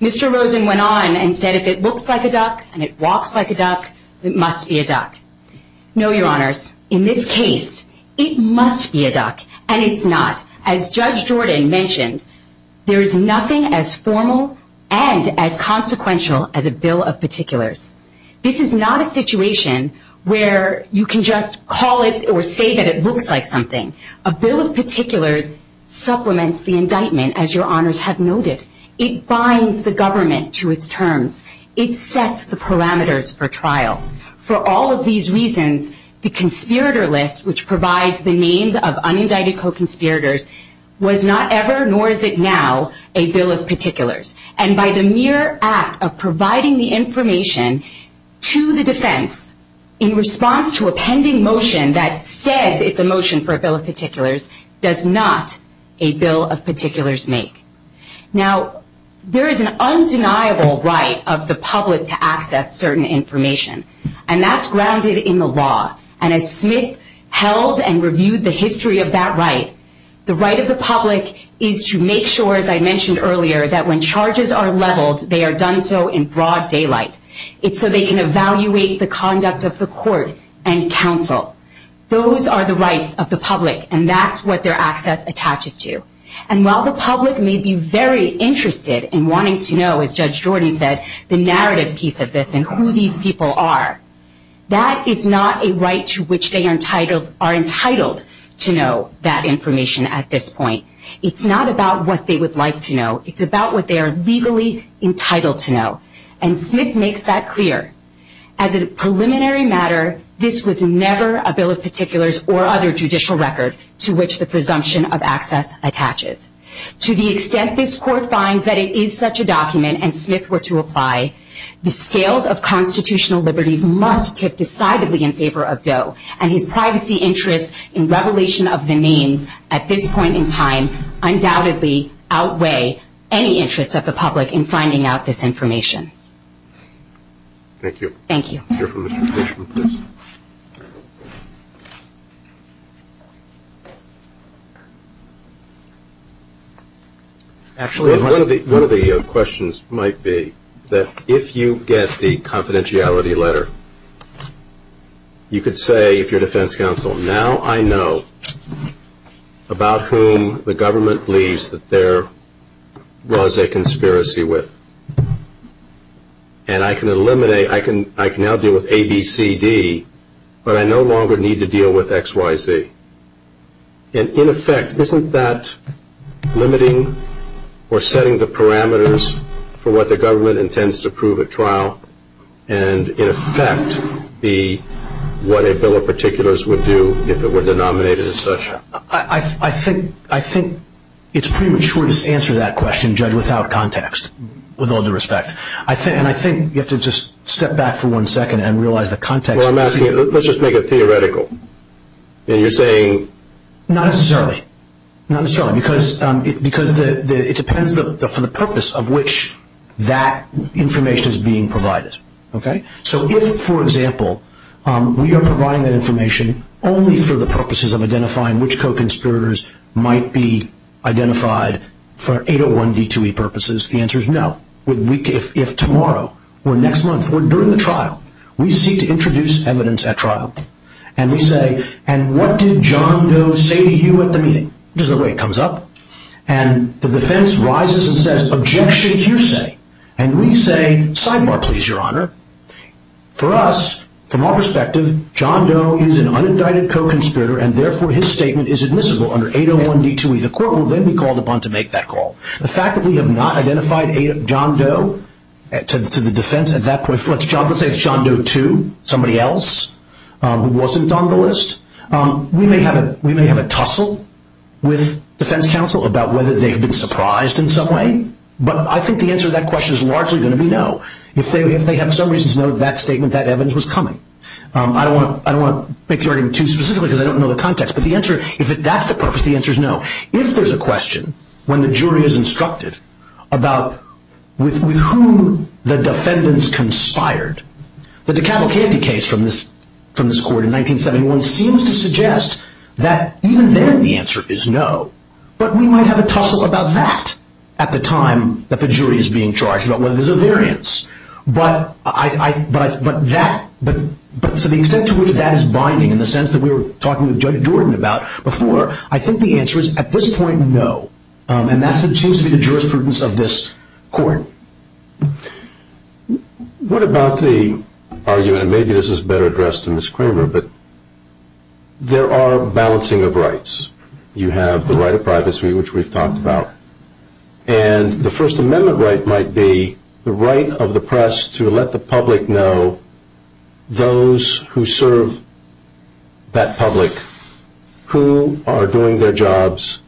Mr. Rosen went on and said if it looks like a duck and it walks like a duck, it must be a duck. No, Your Honors. In this case, it must be a duck, and it's not. As Judge Jordan mentioned, there is nothing as formal and as consequential as a bill of particulars. This is not a situation where you can just call it or say that it looks like something. A bill of particulars supplements the indictment, as Your Honors have noticed. It binds the government to its terms. It sets the parameters for trial. For all of these reasons, the conspirator list, which provides the names of unindicted co-conspirators, was not ever, nor is it now, a bill of particulars. And by the mere act of providing the information to the defense in response to a pending motion that said it's a motion for a bill of particulars does not a bill of particulars make. Now, there is an undeniable right of the public to access certain information, and that's grounded in the law. And as Smith held and reviewed the history of that right, the right of the public is to make sure, as I mentioned earlier, that when charges are leveled, they are done so in broad daylight. It's so they can evaluate the conduct of the court and counsel. Those are the rights of the public, and that's what their access attaches to. And while the public may be very interested in wanting to know, as Judge Jordan said, the narrative piece of this and who these people are, that is not a right to which they are entitled to know that information at this point. It's not about what they would like to know. It's about what they are legally entitled to know. And Smith makes that clear. As a preliminary matter, this was never a bill of particulars or other judicial record to which the presumption of access attaches. To the extent this court finds that it is such a document, and Smith were to apply, the scales of constitutional liberty must kick decidedly in favor of Doe, and his privacy interests in revelation of the names at this point in time undoubtedly outweigh any interest of the public in finding out this information. Thank you. Thank you. Let's hear from Mr. Fishman, please. Actually, one of the questions might be that if you get the confidentiality letter, you could say to your defense counsel, now I know about whom the government believes that there was a conspiracy with. And I can eliminate, I can now deal with A, B, C, D, but I no longer need to deal with X, Y, Z. And in effect, isn't that limiting or setting the parameters for what the government intends to prove at trial and in effect be what a bill of particulars would do if it were denominated as such? I think it's premature to answer that question, Judge, without context, with all due respect. And I think you have to just step back for one second and realize the context. Let's just make it theoretical. You're saying? Not necessarily. Because it depends for the purpose of which that information is being provided. So if, for example, we are providing that information only for the purposes of identifying which co-conspirators might be identified for 801B2E purposes, the answer is no. If tomorrow or next month or during the trial, we seek to introduce evidence at trial, and we say, and what did John Doe say to you at the meeting? This is the way it comes up. And the defense rises and says, objections, you say. And we say, sidebar, please, Your Honor. For us, from our perspective, John Doe is an unindicted co-conspirator, and therefore his statement is admissible under 801B2E. The court will then be called upon to make that call. The fact that we have not identified John Doe to the defense at that point, John Doe 2, somebody else who wasn't on the list, we may have a tussle with defense counsel about whether they've been surprised in some way. But I think the answer to that question is largely going to be no. If they have some reason to know that statement, that evidence was coming. I don't want to make the argument too specific because I don't know the context, but if that's the purpose, the answer is no. If there's a question, when the jury is instructed about with whom the defendants conspired, the Dekalb Candy case from this court in 1971 seems to suggest that even then the answer is no. But we might have a tussle about that at the time that the jury is being charged, about whether there's a variance. But to the extent to which that is binding, in the sense that we were talking with Judge Dorman about before, I think the answer is at this point no. And that seems to be the jurisprudence of this court. What about the argument, and maybe this is better addressed to Ms. Kramer, that there are balancing of rights? You have the right of privacy, which we've talked about, and the First Amendment right might be the right of the press to let the public know those who serve that public who are doing their jobs,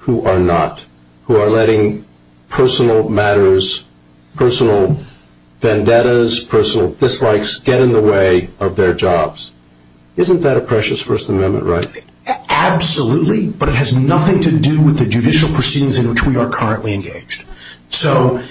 who are not, who are letting personal matters, personal vendettas, personal dislikes get in the way of their jobs. Isn't that a precious First Amendment right? Absolutely, but it has nothing to do with the judicial proceedings in which we are currently engaged. So,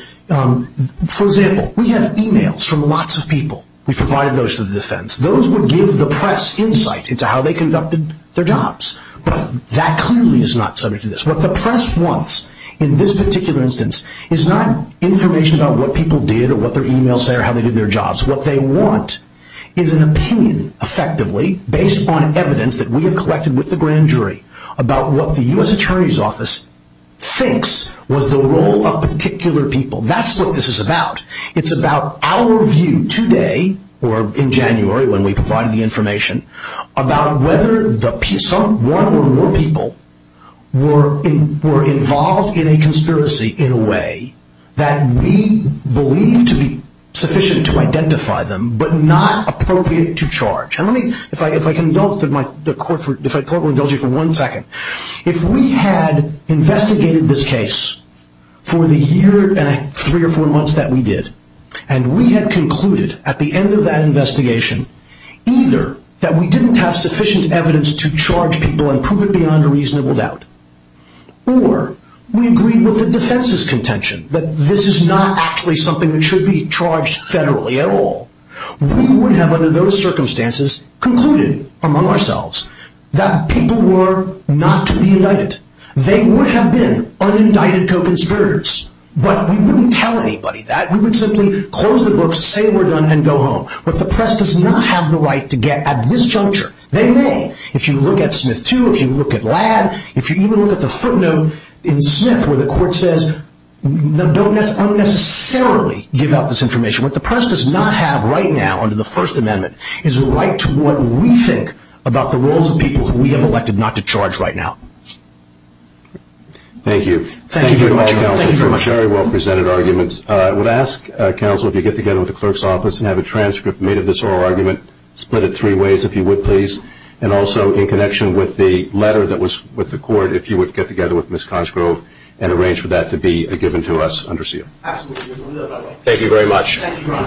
for example, we have e-mails from lots of people. We provide those to the defense. Those would give the press insight into how they conducted their jobs. But that clearly is not subject to this. What the press wants in this particular instance is not information about what people did or what their e-mails say or how they did their jobs. What they want is an opinion, effectively, based on evidence that we have collected with the grand jury about what the U.S. Attorney's Office thinks was the role of particular people. That's what this is about. It's about our view today, or in January when we provide the information, about whether one or more people were involved in a conspiracy in a way that we believe to be sufficient to identify them, but not appropriate to charge. If I could indulge you for one second. If we had investigated this case for the year and three or four months that we did, and we had concluded at the end of that investigation either that we didn't have sufficient evidence to charge people and prove it beyond a reasonable doubt, or we agreed with the defense's contention that this is not actually something that should be charged federally at all, we would have, under those circumstances, concluded among ourselves that people were not to be indicted. They would have been unindicted co-conspirators, but we wouldn't tell anybody that. We would simply close the books, say we're done, and go home. But the press does not have the right to get at this juncture. They may. If you look at Smith 2, if you look at Ladd, if you even look at the footnote in Smith where the court says, no, don't necessarily give out this information. What the press does not have right now under the First Amendment is a right to what we think about the roles of people we have elected not to charge right now. Thank you. Thank you very much, Counsel. Thank you very much. Very well presented arguments. I would ask, Counsel, if you'd get together with the clerk's office and have a transcript made of this oral argument, split it three ways, if you would, please. And also, in connection with the letter that was with the court, if you would get together with Ms. Consgrove and arrange for that to be given to us under seal. Absolutely. Thank you very much.